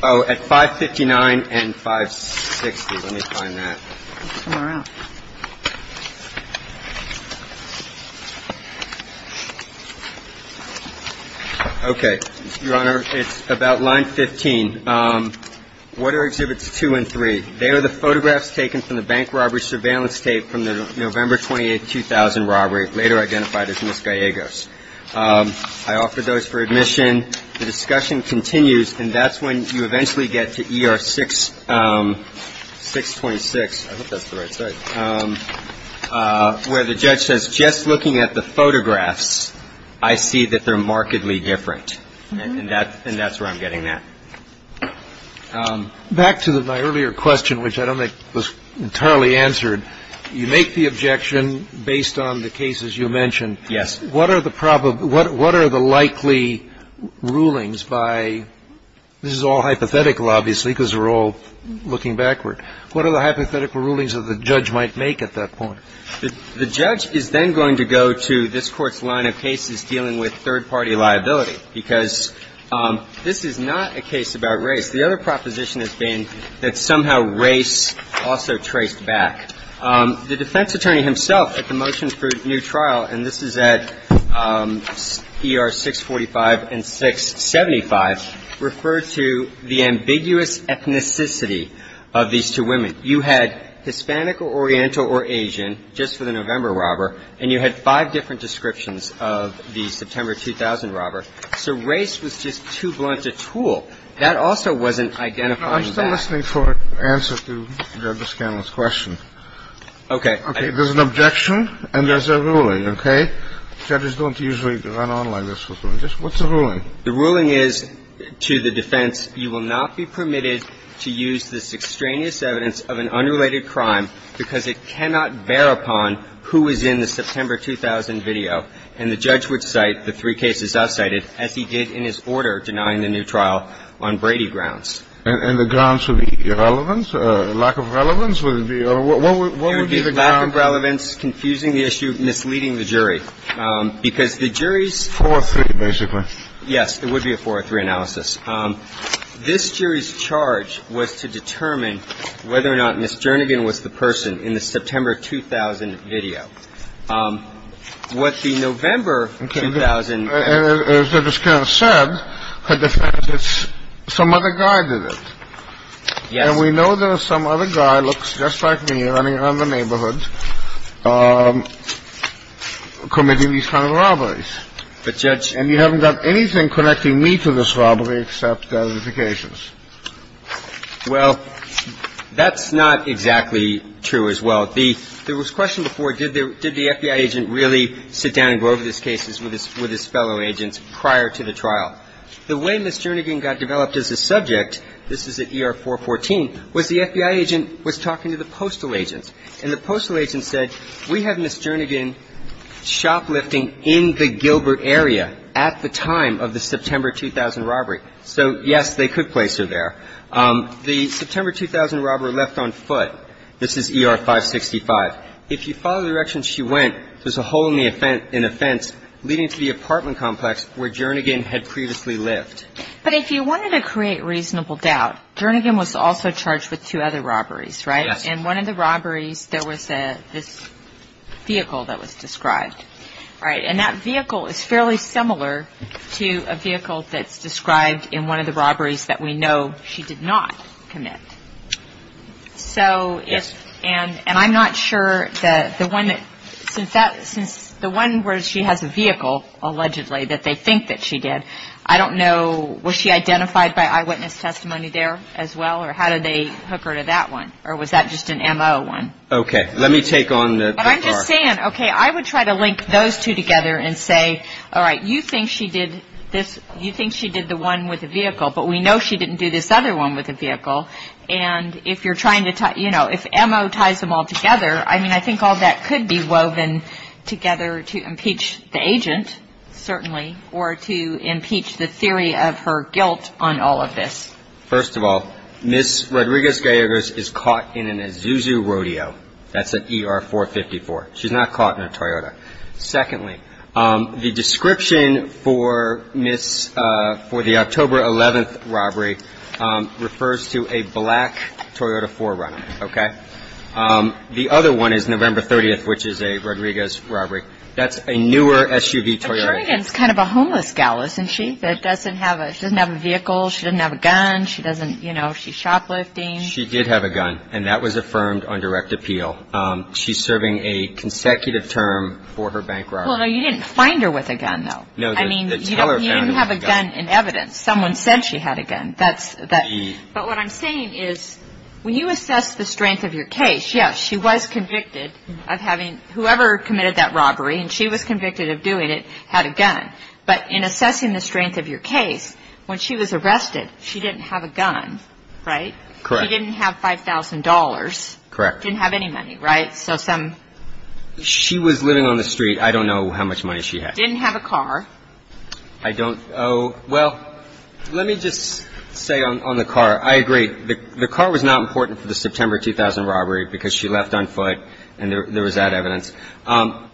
Oh, at 559 and 560. Let me find that. Okay. Your Honor, it's about line 15. What are Exhibits 2 and 3? They are the photographs taken from the bank robber's surveillance tape from the November 28, 2000 robbery, later identified as Ms. Gallegos. I offer those for admission. The discussion continues, and that's when you eventually get to ER 626, I hope that's the right site, where the judge says, just looking at the photographs, I see that they're markedly different. And that's where I'm getting that. Back to my earlier question, which I don't think was entirely answered. You make the objection based on the cases you mentioned. Yes. What are the probable – what are the likely rulings by – this is all hypothetical, obviously, because we're all looking backward. What are the hypothetical rulings that the judge might make at that point? The judge is then going to go to this Court's line of cases dealing with third-party liability, because this is not a case about race. The other proposition has been that somehow race also traced back. The defense attorney himself at the motions for new trial, and this is at ER 645 and 675, referred to the ambiguous ethnicity of these two women. You had Hispanic or Oriental or Asian, just for the November robber, and you had five different descriptions of the September 2000 robber. So race was just too blunt a tool. That also wasn't identifying that. I'm still listening for an answer to Judge Scanlon's question. Okay. Okay. There's an objection and there's a ruling, okay? Judges don't usually run on like this with rulings. What's the ruling? The ruling is to the defense, you will not be permitted to use this extraneous evidence of an unrelated crime because it cannot bear upon who is in the September 2000 video. And the judge would cite the three cases I've cited as he did in his order denying the new trial on Brady grounds. And the grounds would be irrelevance, lack of relevance? Would it be or what would be the grounds? It would be lack of relevance, confusing the issue, misleading the jury. Because the jury's ---- 4-3, basically. Yes. It would be a 4-3 analysis. This jury's charge was to determine whether or not Ms. Jernigan was the person in the September 2000 video. What the November 2000 ---- Okay. And as Judge Scanlon said, her defense is some other guy did it. Yes. And we know there was some other guy, looks just like me, running around the neighborhood, committing these kind of robberies. But, Judge ---- And you haven't got anything connecting me to this robbery except notifications. Well, that's not exactly true as well. There was a question before, did the FBI agent really sit down and go over these cases with his fellow agents prior to the trial? The way Ms. Jernigan got developed as a subject, this is at ER-414, was the FBI agent was talking to the postal agents. And the postal agent said, we have Ms. Jernigan shoplifting in the Gilbert area at the time of the September 2000 robbery. So, yes, they could place her there. The September 2000 robbery left on foot. This is ER-565. If you follow the direction she went, there's a hole in the fence leading to the apartment complex where Jernigan had previously lived. But if you wanted to create reasonable doubt, Jernigan was also charged with two other robberies, right? Yes. In one of the robberies, there was this vehicle that was described, right? And that vehicle is fairly similar to a vehicle that's described in one of the robberies that we know she did not commit. So if ---- Yes. And I'm not sure that the one that ---- Since the one where she has a vehicle, allegedly, that they think that she did, I don't know, was she identified by eyewitness testimony there as well, or how did they hook her to that one? Or was that just an MO one? Okay. Let me take on the ---- But I'm just saying, okay, I would try to link those two together and say, all right, you think she did this ---- you think she did the one with the vehicle, but we know she didn't do this other one with the vehicle. And if you're trying to ---- you know, if MO ties them all together, I mean, I think all that could be woven together to impeach the agent, certainly, or to impeach the theory of her guilt on all of this. First of all, Ms. Rodriguez-Gallegos is caught in an Isuzu Rodeo. That's an ER 454. She's not caught in a Toyota. Secondly, the description for the October 11th robbery refers to a black Toyota 4Runner, okay? The other one is November 30th, which is a Rodriguez robbery. That's a newer SUV Toyota. But Jordan's kind of a homeless gal, isn't she, that doesn't have a vehicle, she doesn't have a gun, she doesn't ---- you know, she's shoplifting. She did have a gun, and that was affirmed on direct appeal. She's serving a consecutive term for her bank robbery. Well, no, you didn't find her with a gun, though. No, the teller found her with a gun. I mean, you didn't have a gun in evidence. Someone said she had a gun. But what I'm saying is, when you assess the strength of your case, yes, she was convicted of having ---- whoever committed that robbery, and she was convicted of doing it, had a gun. But in assessing the strength of your case, when she was arrested, she didn't have a gun, right? Correct. She didn't have $5,000. Correct. Didn't have any money, right? So some ---- She was living on the street. I don't know how much money she had. Didn't have a car. I don't ---- well, let me just say on the car, I agree, the car was not important for the September 2000 robbery because she left on foot, and there was that evidence.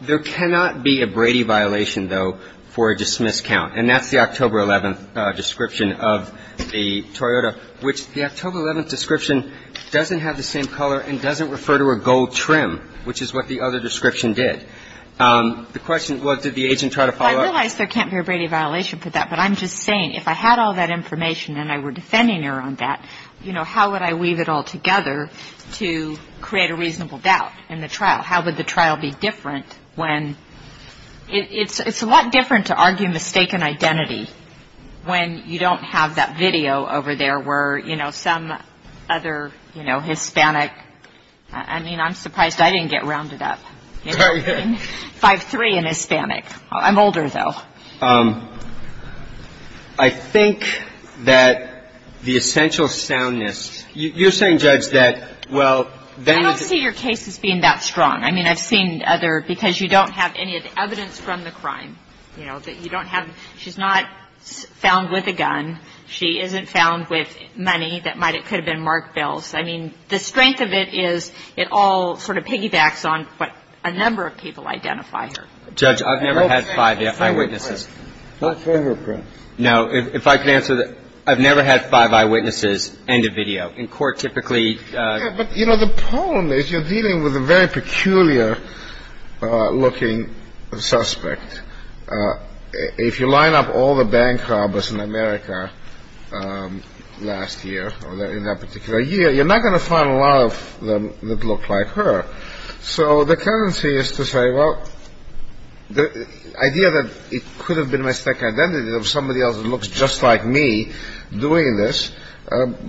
There cannot be a Brady violation, though, for a dismiss count. And that's the October 11th description of the Toyota, which the October 11th description doesn't have the same color and doesn't refer to a gold trim, which is what the other description did. The question was, did the agent try to follow up? Well, I realize there can't be a Brady violation for that, but I'm just saying if I had all that information and I were defending her on that, you know, how would I weave it all together to create a reasonable doubt in the trial? How would the trial be different when ---- it's a lot different to argue mistaken identity when you don't have that video over there where, you know, some other, you know, Hispanic ---- I mean, I'm surprised I didn't get rounded up in 5-3 in Hispanic. I'm older, though. I think that the essential soundness ---- you're saying, Judge, that, well, then ---- I don't see your case as being that strong. I mean, I've seen other ---- because you don't have any evidence from the crime, you know, that you don't have ---- she's not found with a gun. She isn't found with money that might have ---- could have been marked bills. I mean, the strength of it is it all sort of piggybacks on what a number of people identify her. Judge, I've never had five eyewitnesses. Not for her, Chris. No. If I could answer that, I've never had five eyewitnesses and a video. In court, typically ---- But, you know, the problem is you're dealing with a very peculiar-looking suspect. If you line up all the bank robbers in America last year or in that particular year, you're not going to find a lot of them that look like her. So the tendency is to say, well, the idea that it could have been a mistake identity of somebody else that looks just like me doing this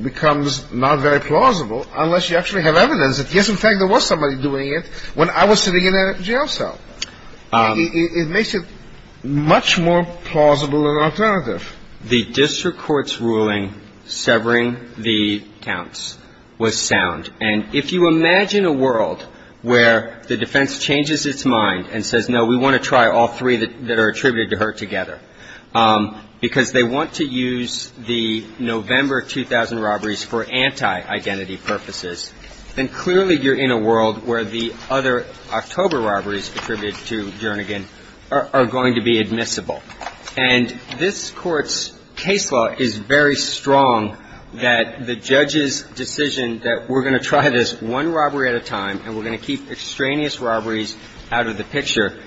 becomes not very plausible unless you actually have evidence that, yes, in fact, there was somebody doing it when I was sitting in that jail cell. It makes it much more plausible than alternative. The district court's ruling severing the counts was sound. And if you imagine a world where the defense changes its mind and says, no, we want to try all three that are attributed to her together, because they want to use the November 2000 robberies for anti-identity purposes, then clearly you're in a world where the other October robberies attributed to Jernigan are going to be admissible. And this Court's case law is very strong that the judge's decision that we're going to try this one robbery at a time and we're going to keep extraneous robberies out of the picture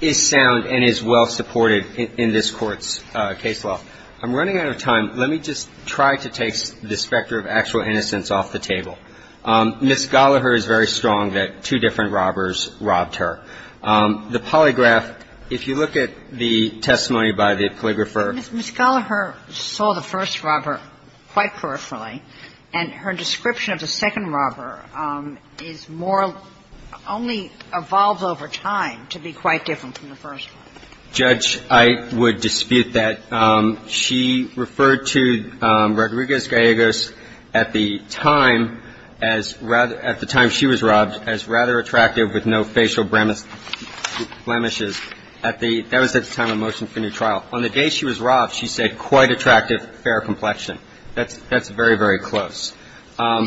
is sound and is well-supported in this Court's case law. I'm running out of time. Let me just try to take the specter of actual innocence off the table. Ms. Gallaher is very strong that two different robbers robbed her. The polygraph, if you look at the testimony by the polygrapher. Ms. Gallaher saw the first robber quite personally, and her description of the second robber is more only evolved over time to be quite different from the first one. Judge, I would dispute that. She referred to Rodriguez-Gallegos at the time as rather – at the time she was robbed as rather attractive with no facial blemishes at the – that was at the time of motion for new trial. On the day she was robbed, she said quite attractive, fair complexion. That's very, very close.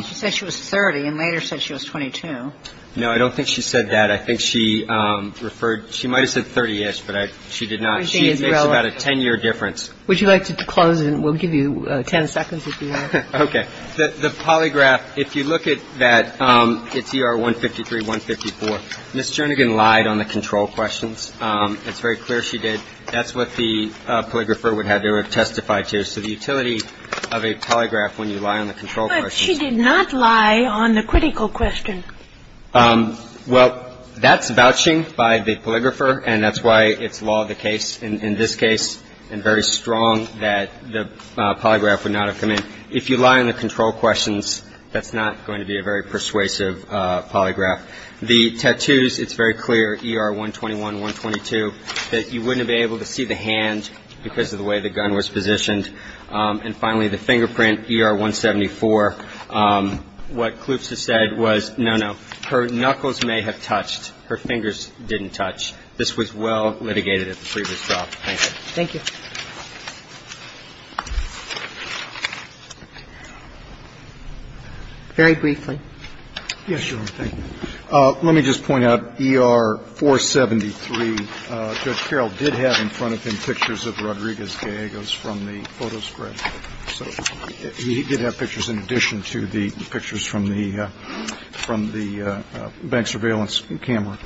She said she was 30 and later said she was 22. No, I don't think she said that. I think she referred – she might have said 30-ish, but she did not. She makes about a 10-year difference. Would you like to close, and we'll give you 10 seconds if you want. Okay. The polygraph, if you look at that, it's ER 153, 154. Ms. Jernigan lied on the control questions. It's very clear she did. That's what the polygrapher would have to have testified to. So the utility of a polygraph when you lie on the control questions – But she did not lie on the critical question. Well, that's vouching by the polygrapher, and that's why it's law of the case in this case and very strong that the polygraph would not have come in. If you lie on the control questions, that's not going to be a very persuasive polygraph. The tattoos, it's very clear, ER 121, 122, that you wouldn't have been able to see the hand because of the way the gun was positioned. And finally, the fingerprint, ER 174. What Kloops has said was, no, no, her knuckles may have touched. Her fingers didn't touch. This was well litigated at the previous trial. Thank you. Thank you. Very briefly. Yes, Your Honor. Thank you. Let me just point out, ER 473, Judge Carroll did have in front of him pictures of Rodriguez-Gallegos from the photo spread. So he did have pictures in addition to the pictures from the bank surveillance camera.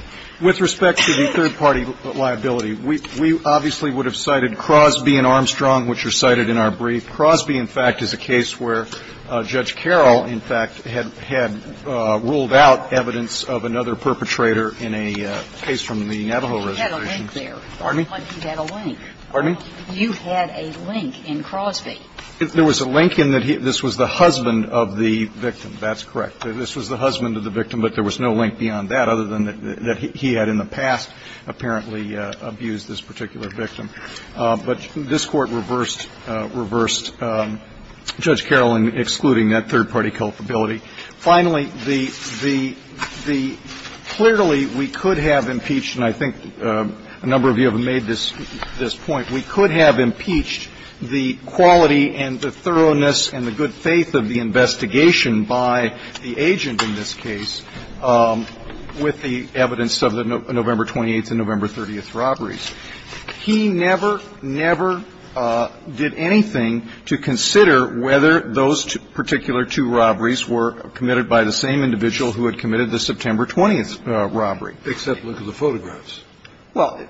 With respect to the third-party liability, we obviously would have cited Crosby and Armstrong, which are cited in our brief. Crosby, in fact, is a case where Judge Carroll, in fact, had ruled out evidence of another perpetrator in a case from the Navajo Reservation. He had a link there. Pardon me? He had a link. Pardon me? You had a link in Crosby. There was a link in that this was the husband of the victim. That's correct. This was the husband of the victim, but there was no link beyond that other than that he had in the past apparently abused this particular victim. But this Court reversed Judge Carroll in excluding that third-party culpability. Finally, the clearly we could have impeached, and I think a number of you have made this point. We could have impeached the quality and the thoroughness and the good faith of the investigation by the agent in this case with the evidence of the November 28th and But he never, never did anything to consider whether those particular two robberies were committed by the same individual who had committed the September 20th robbery. Except look at the photographs. Well,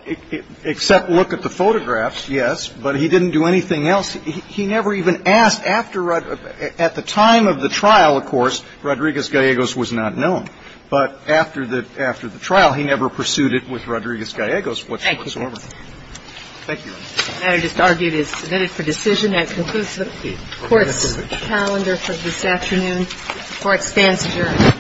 except look at the photographs, yes, but he didn't do anything else. He never even asked after the time of the trial, of course, Rodriguez-Gallegos was not known. But after the trial, he never pursued it with Rodriguez-Gallegos whatsoever. Thank you, Your Honor. The matter just argued is submitted for decision and concludes the Court's calendar for this afternoon. The Court stands adjourned.